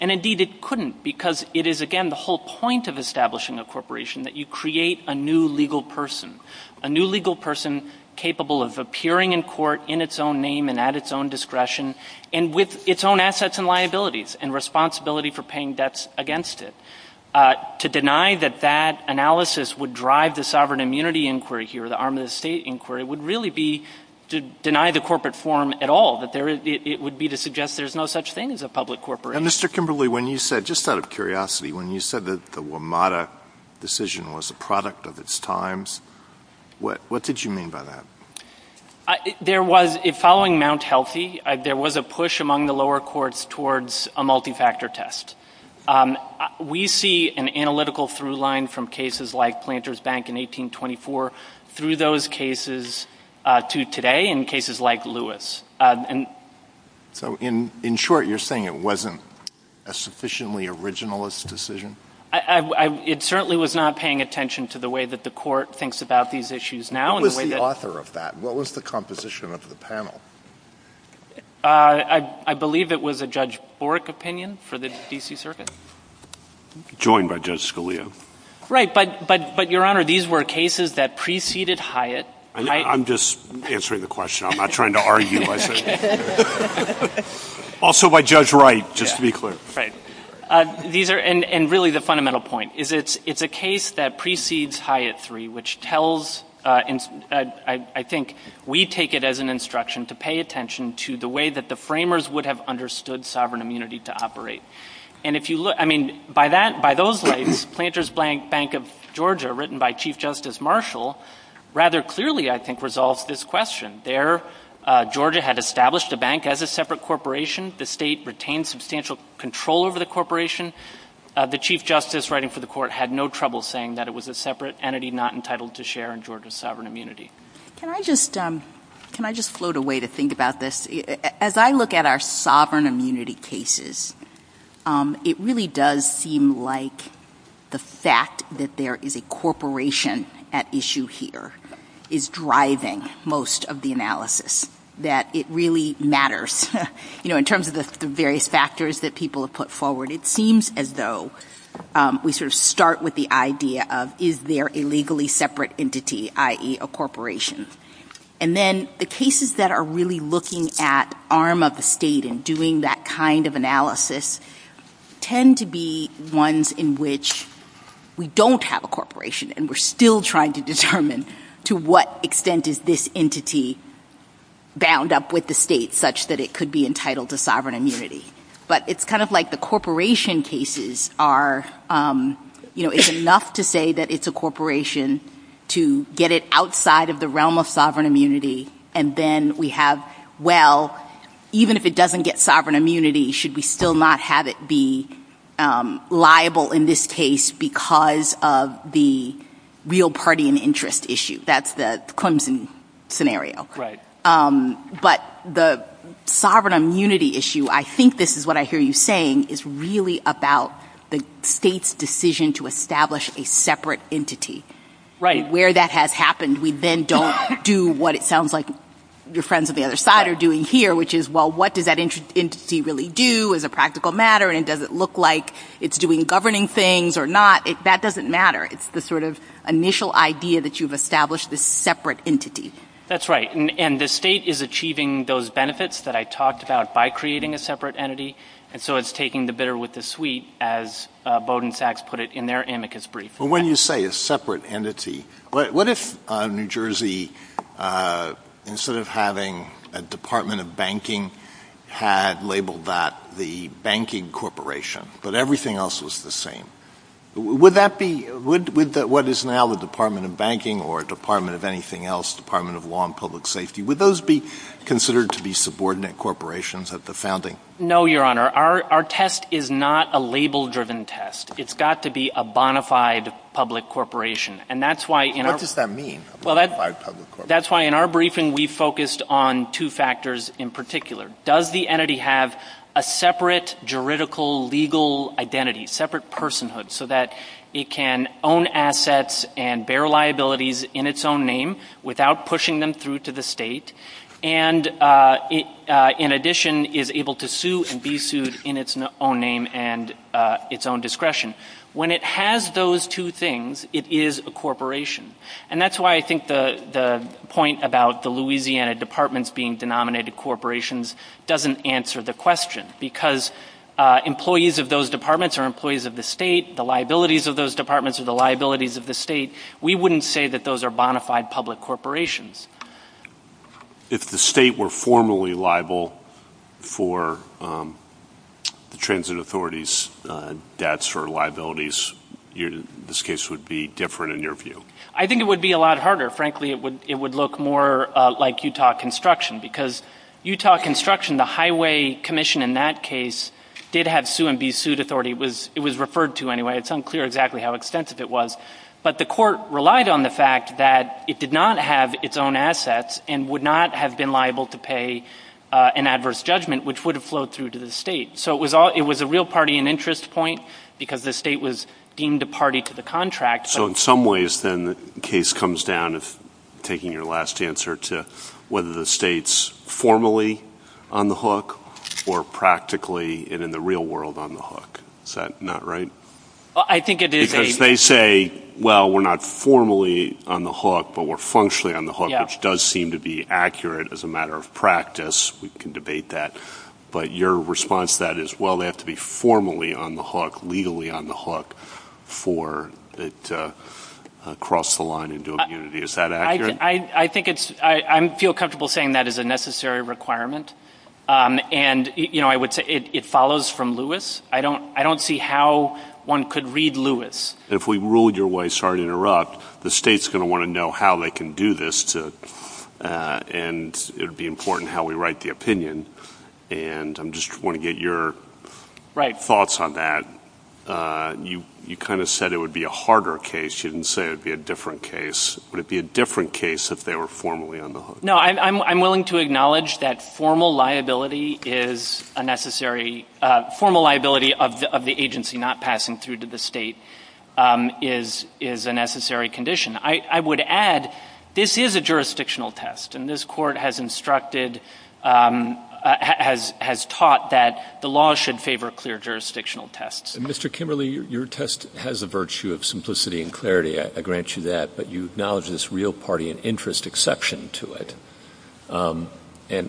And indeed, it couldn't because it is again, the whole point of establishing a corporation that you create a new legal person, a new legal person capable of appearing in court in its own name and at its own discretion and with its own assets and liabilities and responsibility for paying debts against it. To deny that that analysis would drive the sovereign immunity inquiry here, the arm of the state inquiry would really be to deny the corporate form at all, that it would be to suggest there's no such thing as a public corporation. Mr. Kimberley, when you said, just out of curiosity, when you said that the WMATA decision was a product of its times, what did you mean by that? There was, following Mount Healthy, there was a push among the lower courts towards a multi-factor test. We see an analytical through line from cases like Planters Bank in 1824 through those cases to today in cases like Lewis. So in short, you're saying it wasn't a sufficiently originalist decision? It certainly was not paying attention to the way that the court thinks about these issues now. Who was the author of that? What was the composition of the panel? I believe it was a Judge Bork opinion for the D.C. Circuit. Joined by Judge Scalia. Right, but Your Honor, these were cases that preceded Hyatt. I'm just answering the question. I'm not trying to argue. Also by Judge Wright, just to be clear. Right, and really the fundamental point is it's a case that precedes Hyatt III, which tells, I think, we take it as an instruction to pay attention to the way that the framers would have understood sovereign immunity to operate. And if you look, I mean, by those rights, Planters Bank of Georgia, written by Chief Justice Marshall, rather clearly, I think, resolves this question. There, Georgia had established the bank as a separate corporation. The state retained substantial control over the corporation. The Chief Justice writing for the court had no trouble saying that it was a separate entity not entitled to share in Georgia's sovereign immunity. Can I just float away to think about this? As I look at our sovereign immunity cases, it really does seem like the fact that there is a corporation at issue here is driving most of the analysis, that it really matters. You know, in terms of the various factors that people have put forward, it seems as though we sort of start with the idea of is there a legally separate entity, i.e. a corporation? And then the cases that are really looking at arm of the state and doing that kind of analysis tend to be ones in which we don't have a corporation and we're still trying to determine to what extent is this entity bound up with the state such that it could be entitled to sovereign immunity. But it's kind of like the corporation cases are, you know, it's enough to say that it's a corporation to get it outside of the realm of sovereign immunity and then we have, well, even if it doesn't get sovereign immunity, should we still not have it be liable in this case because of the real party and interest issue? That's the Clemson scenario. But the sovereign immunity issue, I think this is what I hear you saying, is really about the state's decision to establish a separate entity. And where that has happened, we then don't do what it sounds like your friends on the other side are doing here, which is, well, what does that entity really do as a practical matter? And does it look like it's doing governing things or not? That doesn't matter. It's the sort of initial idea that you've established the separate entities. That's right. And the state is achieving those benefits that I talked about by creating a separate entity. And so it's taking the bitter with the sweet, as Bowdoin Sachs put it in their amicus brief. But when you say a separate entity, what if New Jersey, instead of having a Department of Banking had labeled that the Banking Corporation, but everything else was the same. Would that be what is now the Department of Banking or Department of anything else, Department of Law and Public Safety? Would those be considered to be subordinate corporations at the founding? No, Your Honor, our test is not a label-driven test. It's got to be a bona fide public corporation. And that's why... What does that mean? Well, that's why in our briefing, we focused on two factors in particular. Does the entity have a separate juridical, legal identity, separate personhood so that it can own assets and bear liabilities in its own name without pushing them through to the state? And in addition, is able to sue and be sued in its own name and its own discretion. When it has those two things, it is a corporation. And that's why I think the point about the Louisiana Department being denominated corporations doesn't answer the question. Because employees of those departments are employees of the state. The liabilities of those departments are the liabilities of the state. We wouldn't say that those are bona fide public corporations. If the state were formally liable for the transit authorities' debts or liabilities, this case would be different in your view. I think it would be a lot harder. Frankly, it would look more like Utah construction because Utah construction, the highway commission in that case, did have sue and be sued authority. It was referred to anyway. It's unclear exactly how expensive it was. But the court relied on the fact that it did not have its own assets and would not have been liable to pay an adverse judgment, which would have flowed through to the state. So it was a real party and interest point because the state was deemed a party to the contract. So in some ways, then the case comes down as taking your last answer to whether the state's formally on the hook or practically and in the real world on the hook. Is that not right? Well, I think it is. Because they say, well, we're not formally on the hook, but we're functionally on the hook, which does seem to be accurate as a matter of practice. We can debate that. But your response to that is, well, they have to be formally on the hook, legally on the hook for it to cross the line into a community. Is that accurate? I think it's I feel comfortable saying that is a necessary requirement. And I would say it follows from Lewis. I don't see how one could read Lewis. If we ruled your way, sorry to interrupt, the state's going to want to know how they can do this. And it would be important how we write the opinion. And I just want to get your thoughts on that. You kind of said it would be a harder case. You didn't say it would be a different case. Would it be a different case if they were formally on the hook? No, I'm willing to acknowledge that formal liability is a necessary formal liability of the agency not passing through to the state is is a necessary condition. I would add this is a jurisdictional test. And this court has instructed has has taught that the law should favor clear jurisdictional tests. Mr. Kimberley, your test has the virtue of simplicity and clarity. I grant you that. But you acknowledge this real party and interest exception to it. And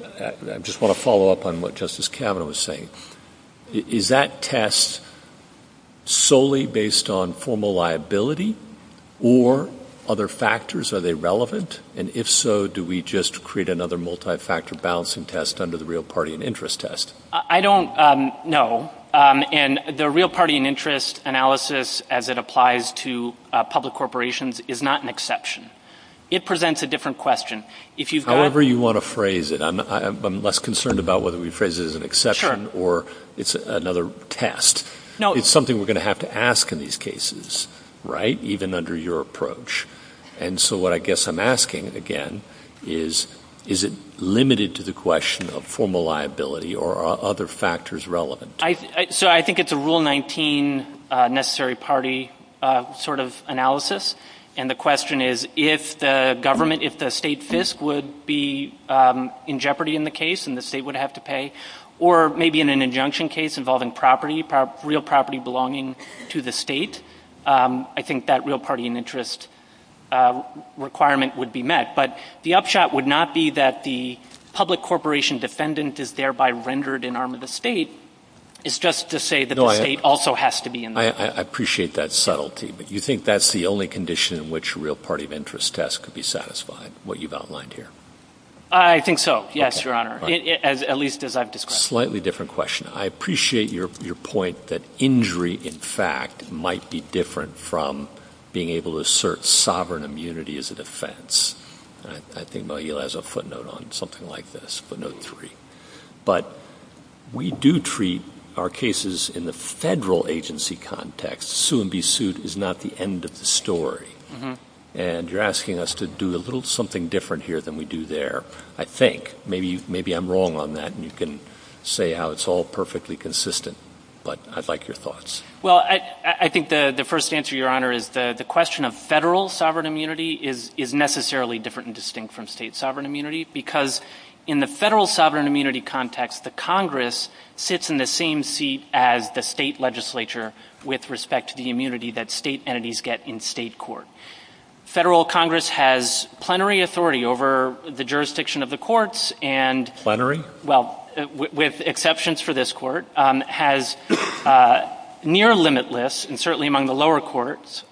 I just want to follow up on what Justice Kavanaugh was saying. Is that test solely based on formal liability or other factors? Are they relevant? And if so, do we just create another multifactor balancing test under the real party and interest test? I don't know. And the real party and interest analysis, as it applies to public corporations, is not an exception. It presents a different question. If you however, you want to phrase it, I'm less concerned about whether we phrase it as an exception or it's another test. No, it's something we're going to have to ask in these cases. Right. Even under your approach. And so what I guess I'm asking again is, is it limited to the question of formal liability or other factors relevant? So I think it's a rule 19 necessary party sort of analysis. And the question is, if the government, if the state FISC would be in jeopardy in the case and the state would have to pay, or maybe in an injunction case involving property, real property belonging to the state, I think that real party and interest requirement would be met. But the upshot would not be that the public corporation defendant is thereby rendered an arm of the state. It's just to say that the state also has to be in there. I appreciate that subtlety, but you think that's the only condition in which a real party of interest test could be satisfying what you've outlined here? I think so. Yes, Your Honor. At least as I've described. Slightly different question. I appreciate your point that injury in fact might be different from being able to assert sovereign immunity as a defense. I think Mogil has a footnote on something like this, footnote three. But we do treat our cases in the federal agency context. Sue and be sued is not the end of the story. And you're asking us to do a little something different here than we do there. I think maybe I'm wrong on that. And you can say how it's all perfectly consistent. But I'd like your thoughts. Well, I think the first answer, Your Honor, is the question of federal sovereign immunity is necessarily different and distinct from state sovereign immunity, because in the federal sovereign immunity context, the Congress sits in the same seat as the state legislature with respect to the immunity that state entities get in state court. Federal Congress has plenary authority over the jurisdiction of the courts and plenary. Well, with exceptions for this court has near limitless and certainly among the lower courts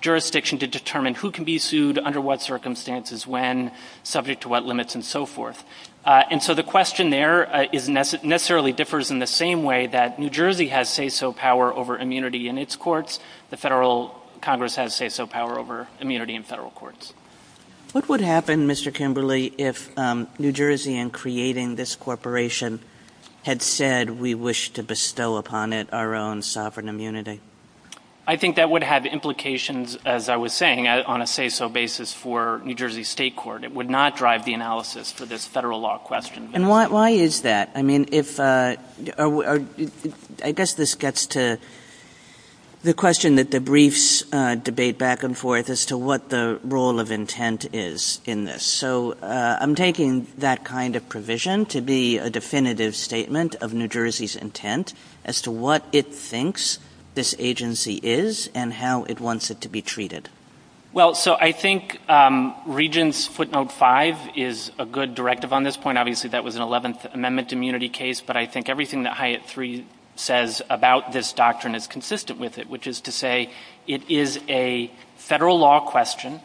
jurisdiction to determine who can be sued under what circumstances, when subject to what limits and so forth. And so the question there is necessarily differs in the same way that New Jersey has say so power over immunity in its courts. The federal Congress has say so power over immunity in federal courts. What would happen, Mr. Kimberly, if New Jersey and creating this corporation had said we wish to bestow upon it our own sovereign immunity? I think that would have implications, as I was saying, on a say so basis for New Jersey state court. It would not drive the analysis for this federal law question. And why is that? I mean, if I guess this gets to the question that the briefs debate back and forth as to what the role of intent is in this. So I'm taking that kind of provision to be a definitive statement of New Jersey's intent as to what it thinks this agency is and how it wants it to be treated. Well, so I think Regents footnote five is a good directive on this point. Obviously, that was an 11th Amendment immunity case. But I think everything that Hyatt three says about this doctrine is consistent with it, which is to say it is a federal law question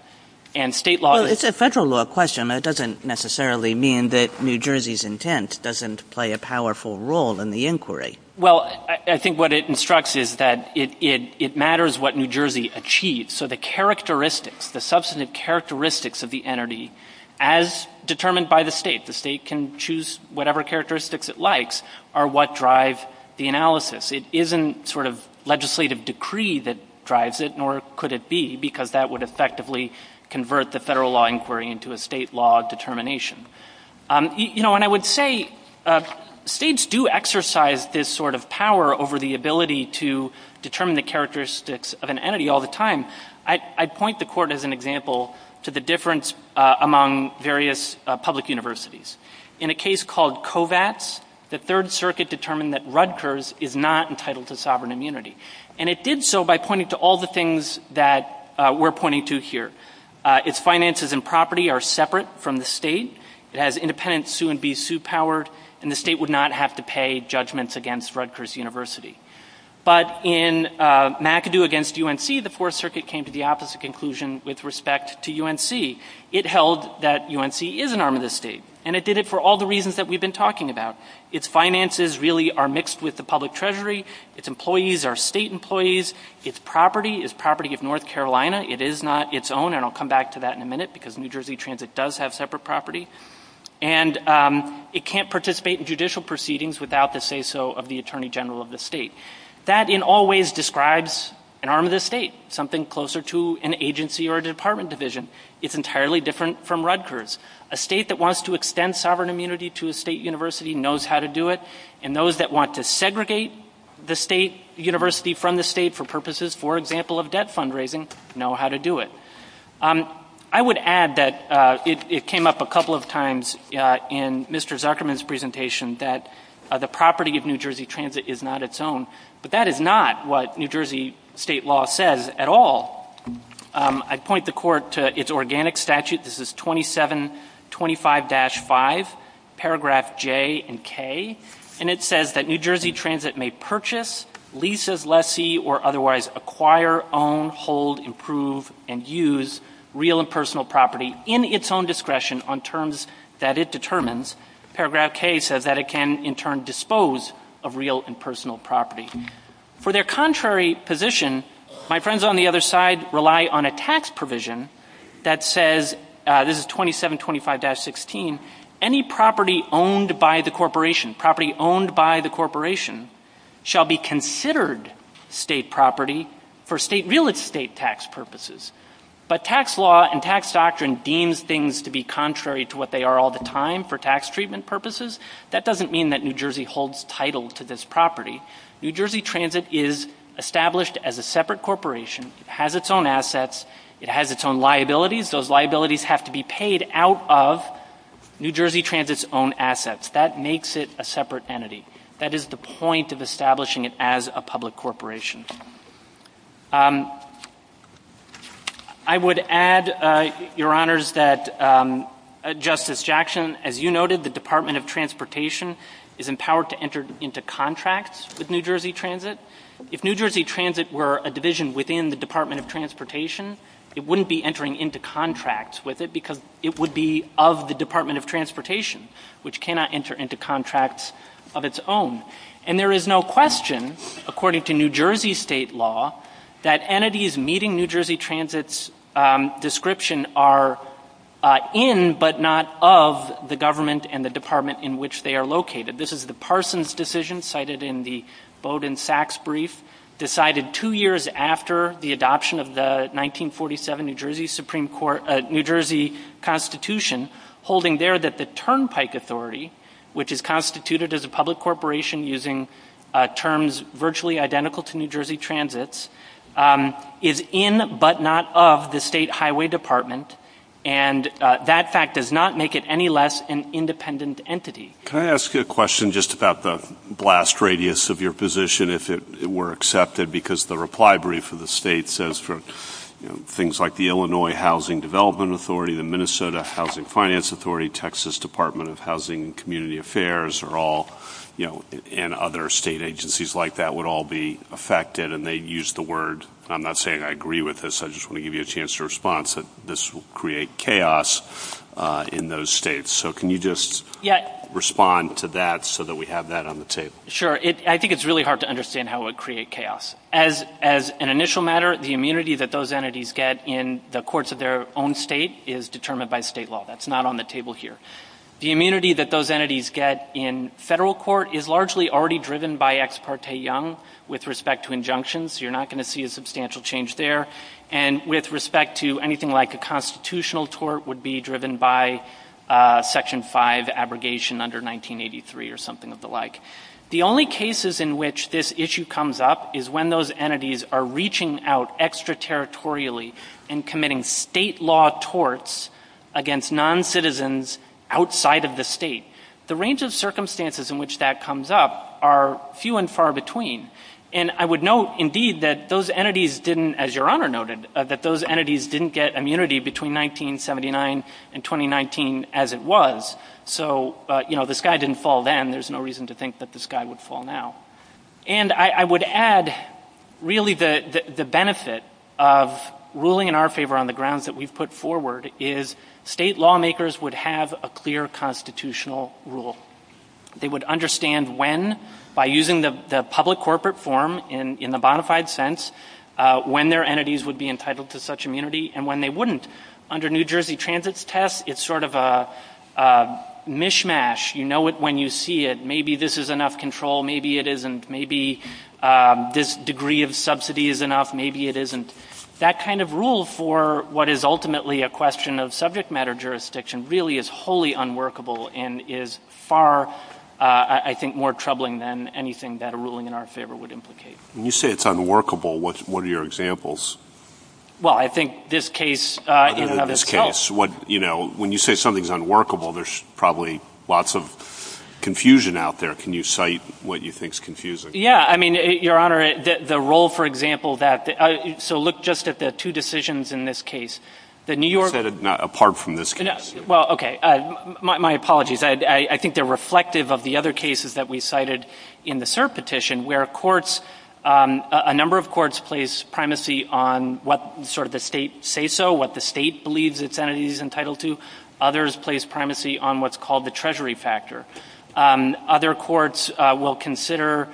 and state law. It's a federal law question. That doesn't necessarily mean that New Jersey's intent doesn't play a powerful role in the inquiry. Well, I think what it instructs is that it matters what New Jersey achieves. So the characteristics, the substantive characteristics of the entity as determined by the state, the state can choose whatever characteristics it likes are what drive the analysis. It isn't sort of legislative decree that drives it, nor could it be, because that would effectively convert the federal law inquiry into a state law determination. You know, and I would say states do exercise this sort of power over the ability to determine the characteristics of an entity all the time. I point the court as an example to the difference among various public universities. In a case called Kovats, the Third Circuit determined that Rutgers is not entitled to sovereign immunity, and it did so by pointing to all the things that we're pointing to here. Its finances and property are separate from the state. It has independent sue-and-be-sue power, and the state would not have to pay judgments against Rutgers University. But in McAdoo against UNC, the Fourth Circuit came to the opposite conclusion with respect to UNC. It held that UNC is an arm of the state, and it did it for all the reasons that we've been talking about. Its finances really are mixed with the public treasury. are state employees. Its property is property of North Carolina. It is not its own, and I'll come back to that in a minute because New Jersey Transit does have separate property. And it can't participate in judicial proceedings without the say-so of the Attorney General of the state. That in all ways describes an arm of the state, something closer to an agency or a department division. It's entirely different from Rutgers. A state that wants to extend sovereign immunity to a state university knows how to do it. And those that want to segregate the state university from the state for purposes, for example, of debt fundraising, know how to do it. I would add that it came up a couple of times in Mr. Zuckerman's presentation that the property of New Jersey Transit is not its own. But that is not what New Jersey state law says at all. I'd point the court to its organic statute. This is 2725-5, paragraph J and K. And it says that New Jersey Transit may purchase, lease as lessee, or otherwise acquire, own, hold, improve, and use real and personal property in its own discretion on terms that it determines. Paragraph K says that it can in turn dispose of real and personal property. For their contrary position, my friends on the other side rely on a tax provision that says, this is 2725-16, any property owned by the corporation, property owned by the corporation, shall be considered state property for real estate tax purposes. But tax law and tax doctrine deems things to be contrary to what they are all the time for tax treatment purposes. That doesn't mean that New Jersey holds title to this property. New Jersey Transit is established as a separate corporation. It has its own assets. It has its own liabilities. Those liabilities have to be paid out of New Jersey Transit's own assets. That makes it a separate entity. That is the point of establishing it as a public corporation. I would add, Your Honors, that Justice Jackson, as you noted, the Department of Transportation is empowered to enter into contracts with New Jersey Transit. If New Jersey Transit were a division within the Department of Transportation, it wouldn't be entering into contracts with it because it would be of the Department of Transportation, which cannot enter into contracts of its own. And there is no question, according to New Jersey State law, that entities needing New Jersey Transit's description are in, but not of, the government and the department in which they are located. This is the Parsons decision cited in the Bowdoin-Sachs brief, decided two years after the adoption of the 1947 New Jersey Supreme Court, New Jersey Constitution, holding there that the Turnpike Authority, which is constituted as a public corporation using terms virtually identical to New Jersey Transit's, is in, but not of, the state highway department. And that fact does not make it any less an independent entity. Can I ask you a question just about the blast radius of your position, if it were accepted? Because the reply brief of the state says for things like the Illinois Housing Development Authority, the Minnesota Housing Finance Authority, Texas Department of Housing and Community Affairs are all, and other state agencies like that would all be affected and they use the word, I'm not saying I agree with this, I just want to give you a chance to response that this will create chaos in those states. So can you just respond to that so that we have that on the table? Sure. I think it's really hard to understand how it would create chaos. As an initial matter, the immunity that those entities get in the courts of their own state is determined by state law. That's not on the table here. The immunity that those entities get in federal court is largely already driven by ex parte young with respect to injunctions. You're not going to see a substantial change there. And with respect to anything like a constitutional tort would be driven by section five abrogation under 1983 or something of the like. The only cases in which this issue comes up is when those entities are reaching out extraterritorially and committing state law torts against non-citizens outside of the state. The range of circumstances in which that comes up are few and far between. And I would note indeed that those entities didn't, as your honor noted, that those entities didn't get immunity between 1979 and 2019 as it was. So, you know, the sky didn't fall then. There's no reason to think that the sky would fall now. And I would add really the benefit of ruling in our favor on the grounds that we put forward is state lawmakers would have a clear constitutional rule. They would understand when by using the public corporate form in the bona fide sense when their entities would be entitled to such immunity and when they wouldn't. Under New Jersey Transit's test, it's sort of a mishmash. You know it when you see it. Maybe this is enough control. Maybe it isn't. Maybe this degree of subsidy is enough. Maybe it isn't. That kind of rule for what is ultimately a question of subject matter jurisdiction really is wholly unworkable and is far, I think, more troubling than anything that a ruling in our favor would implicate. When you say it's unworkable, what's one of your examples? Well, I think this case. In this case, what you know, when you say something's unworkable, there's probably lots of confusion out there. Can you cite what you think is confusing? Yeah, I mean, Your Honor, the role, for example, that so look just at the two decisions in this case. The New York. Apart from this case. Well, OK, my apologies. I think they're reflective of the other cases that we cited in the cert petition where courts, a number of courts place primacy on what sort of the state say. So what the state believes its entities entitled to others place primacy on what's called the treasury factor. Other courts will consider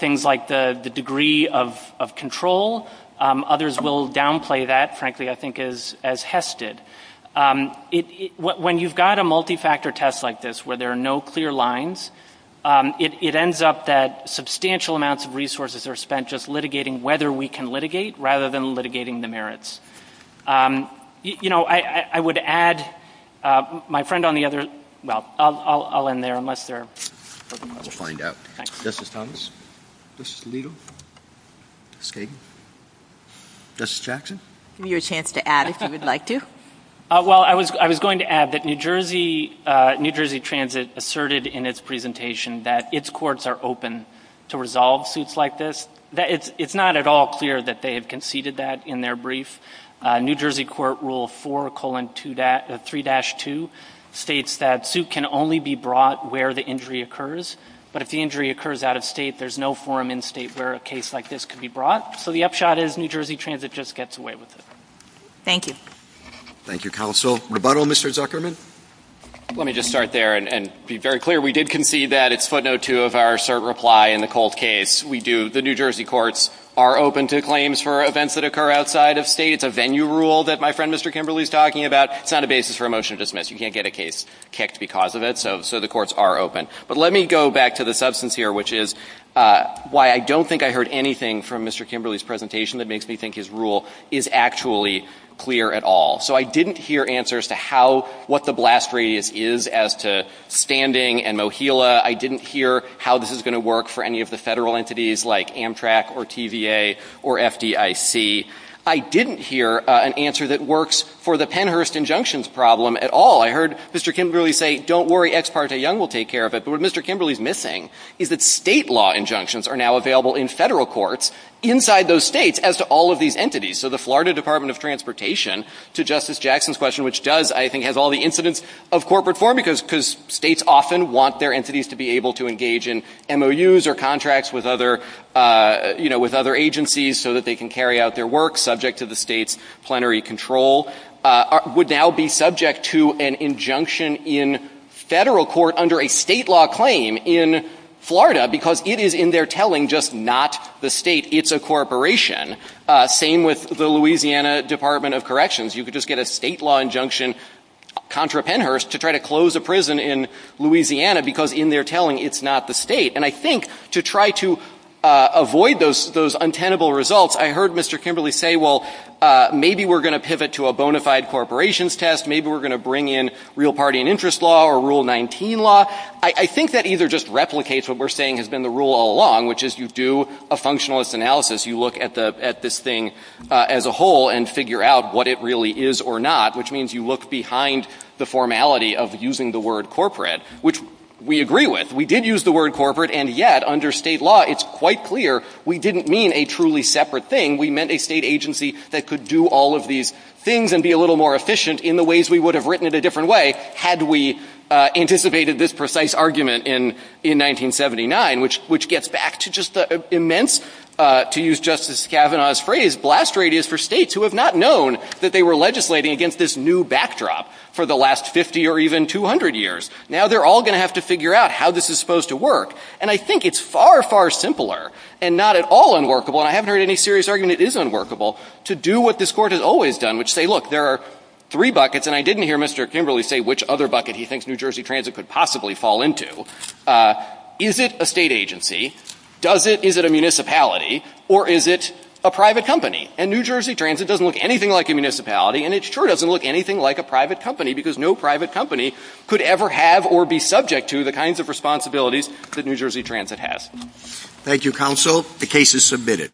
things like the degree of control. Others will downplay that. Frankly, I think is as Hested. When you've got a multifactor test like this, where there are no clear lines, it ends up that substantial amounts of resources are spent just litigating whether we can litigate rather than litigating the merits. You know, I would add my friend on the other. Well, I'll I'll in there unless they're. We'll find out. This is Thomas. This is legal. This Jackson. Your chance to add if you would like to. Well, I was. I was going to add that New Jersey, New Jersey Transit asserted in its presentation that its courts are open to resolve suits like this. It's not at all clear that they have conceded that in their brief. New Jersey Court Rule four colon to that three dash two states that suit can only be brought where the injury occurs. But if the injury occurs out of state, there's no forum in state where a case like this could be brought. So the upshot is New Jersey Transit just gets away with it. Thank you. Thank you, counsel. Rebuttal, Mr. Zuckerman. Let me just start there and be very clear. We did concede that it's footnote two of our cert reply in the cold case. We do. The New Jersey courts are open to claims for events that occur outside of states. A venue rule that my friend, Mr. Kimberly is talking about. It's not a basis for a motion to dismiss. You can't get a case. Because of it. So so the courts are open. But let me go back to the substance here, which is why I don't think I heard anything from Mr. Kimberly's presentation that makes me think his rule is actually clear at all. So I didn't hear answers to how what the blast radius is as to standing and mohila. I didn't hear how this is going to work for any of the federal entities like Amtrak or TVA or FDIC. I didn't hear an answer that works for the Pennhurst injunctions problem at all. I heard Mr. Kimberly say, don't worry. Ex parte Young will take care of it. But what Mr. Kimberly is missing is that state law injunctions are now available in federal courts inside those states as all of these entities. So the Florida Department of Transportation to Justice Jackson's question, which does, I think, has all the incidents of corporate form because because states often want their entities to be able to engage in MOUs or contracts with other, you know, with other agencies so that they can carry out their work subject to the state's plenary control would now be subject to an injunction in federal court under a state law claim in Florida because it is in their telling just not the state. It's a corporation. Same with the Louisiana Department of Corrections. You could just get a state law injunction contra Pennhurst to try to close a prison in Louisiana because in their telling, it's not the state. And I think to try to avoid those those untenable results, I heard Mr. Kimberly say, well, maybe we're going to pivot to a bona fide corporations test. Maybe we're going to bring in real party and interest law or rule 19 law. I think that either just replicates what we're saying has been the rule all along, which is you do a functionalist analysis. You look at the at this thing as a whole and figure out what it really is or not, which means you look behind the formality of using the word corporate, which we agree with. We did use the word corporate. And yet under state law, it's quite clear we didn't mean a truly separate thing. We meant a state agency that could do all of these things and be a little more efficient in the ways we would have written it a different way. Had we anticipated this precise argument in in 1979, which which gets back to just the immense, to use Justice Kavanaugh's phrase, blast radius for states who have not known that they were legislating against this new backdrop for the last 50 or even 200 years. Now they're all going to have to figure out how this is supposed to work. And I think it's far, far simpler and not at all unworkable. I haven't heard any serious argument. It is unworkable to do what this court has always done, which say, look, there are three buckets and I didn't hear Mr. Kimberly say which other bucket he thinks New Jersey Transit could possibly fall into. Is it a state agency? Does it? Is it a municipality or is it a private company? And New Jersey Transit doesn't look anything like a municipality, and it sure doesn't look anything like a private company because no private company could ever have or be subject to the kinds of responsibilities that New Jersey Transit has. Thank you, counsel. The case is submitted.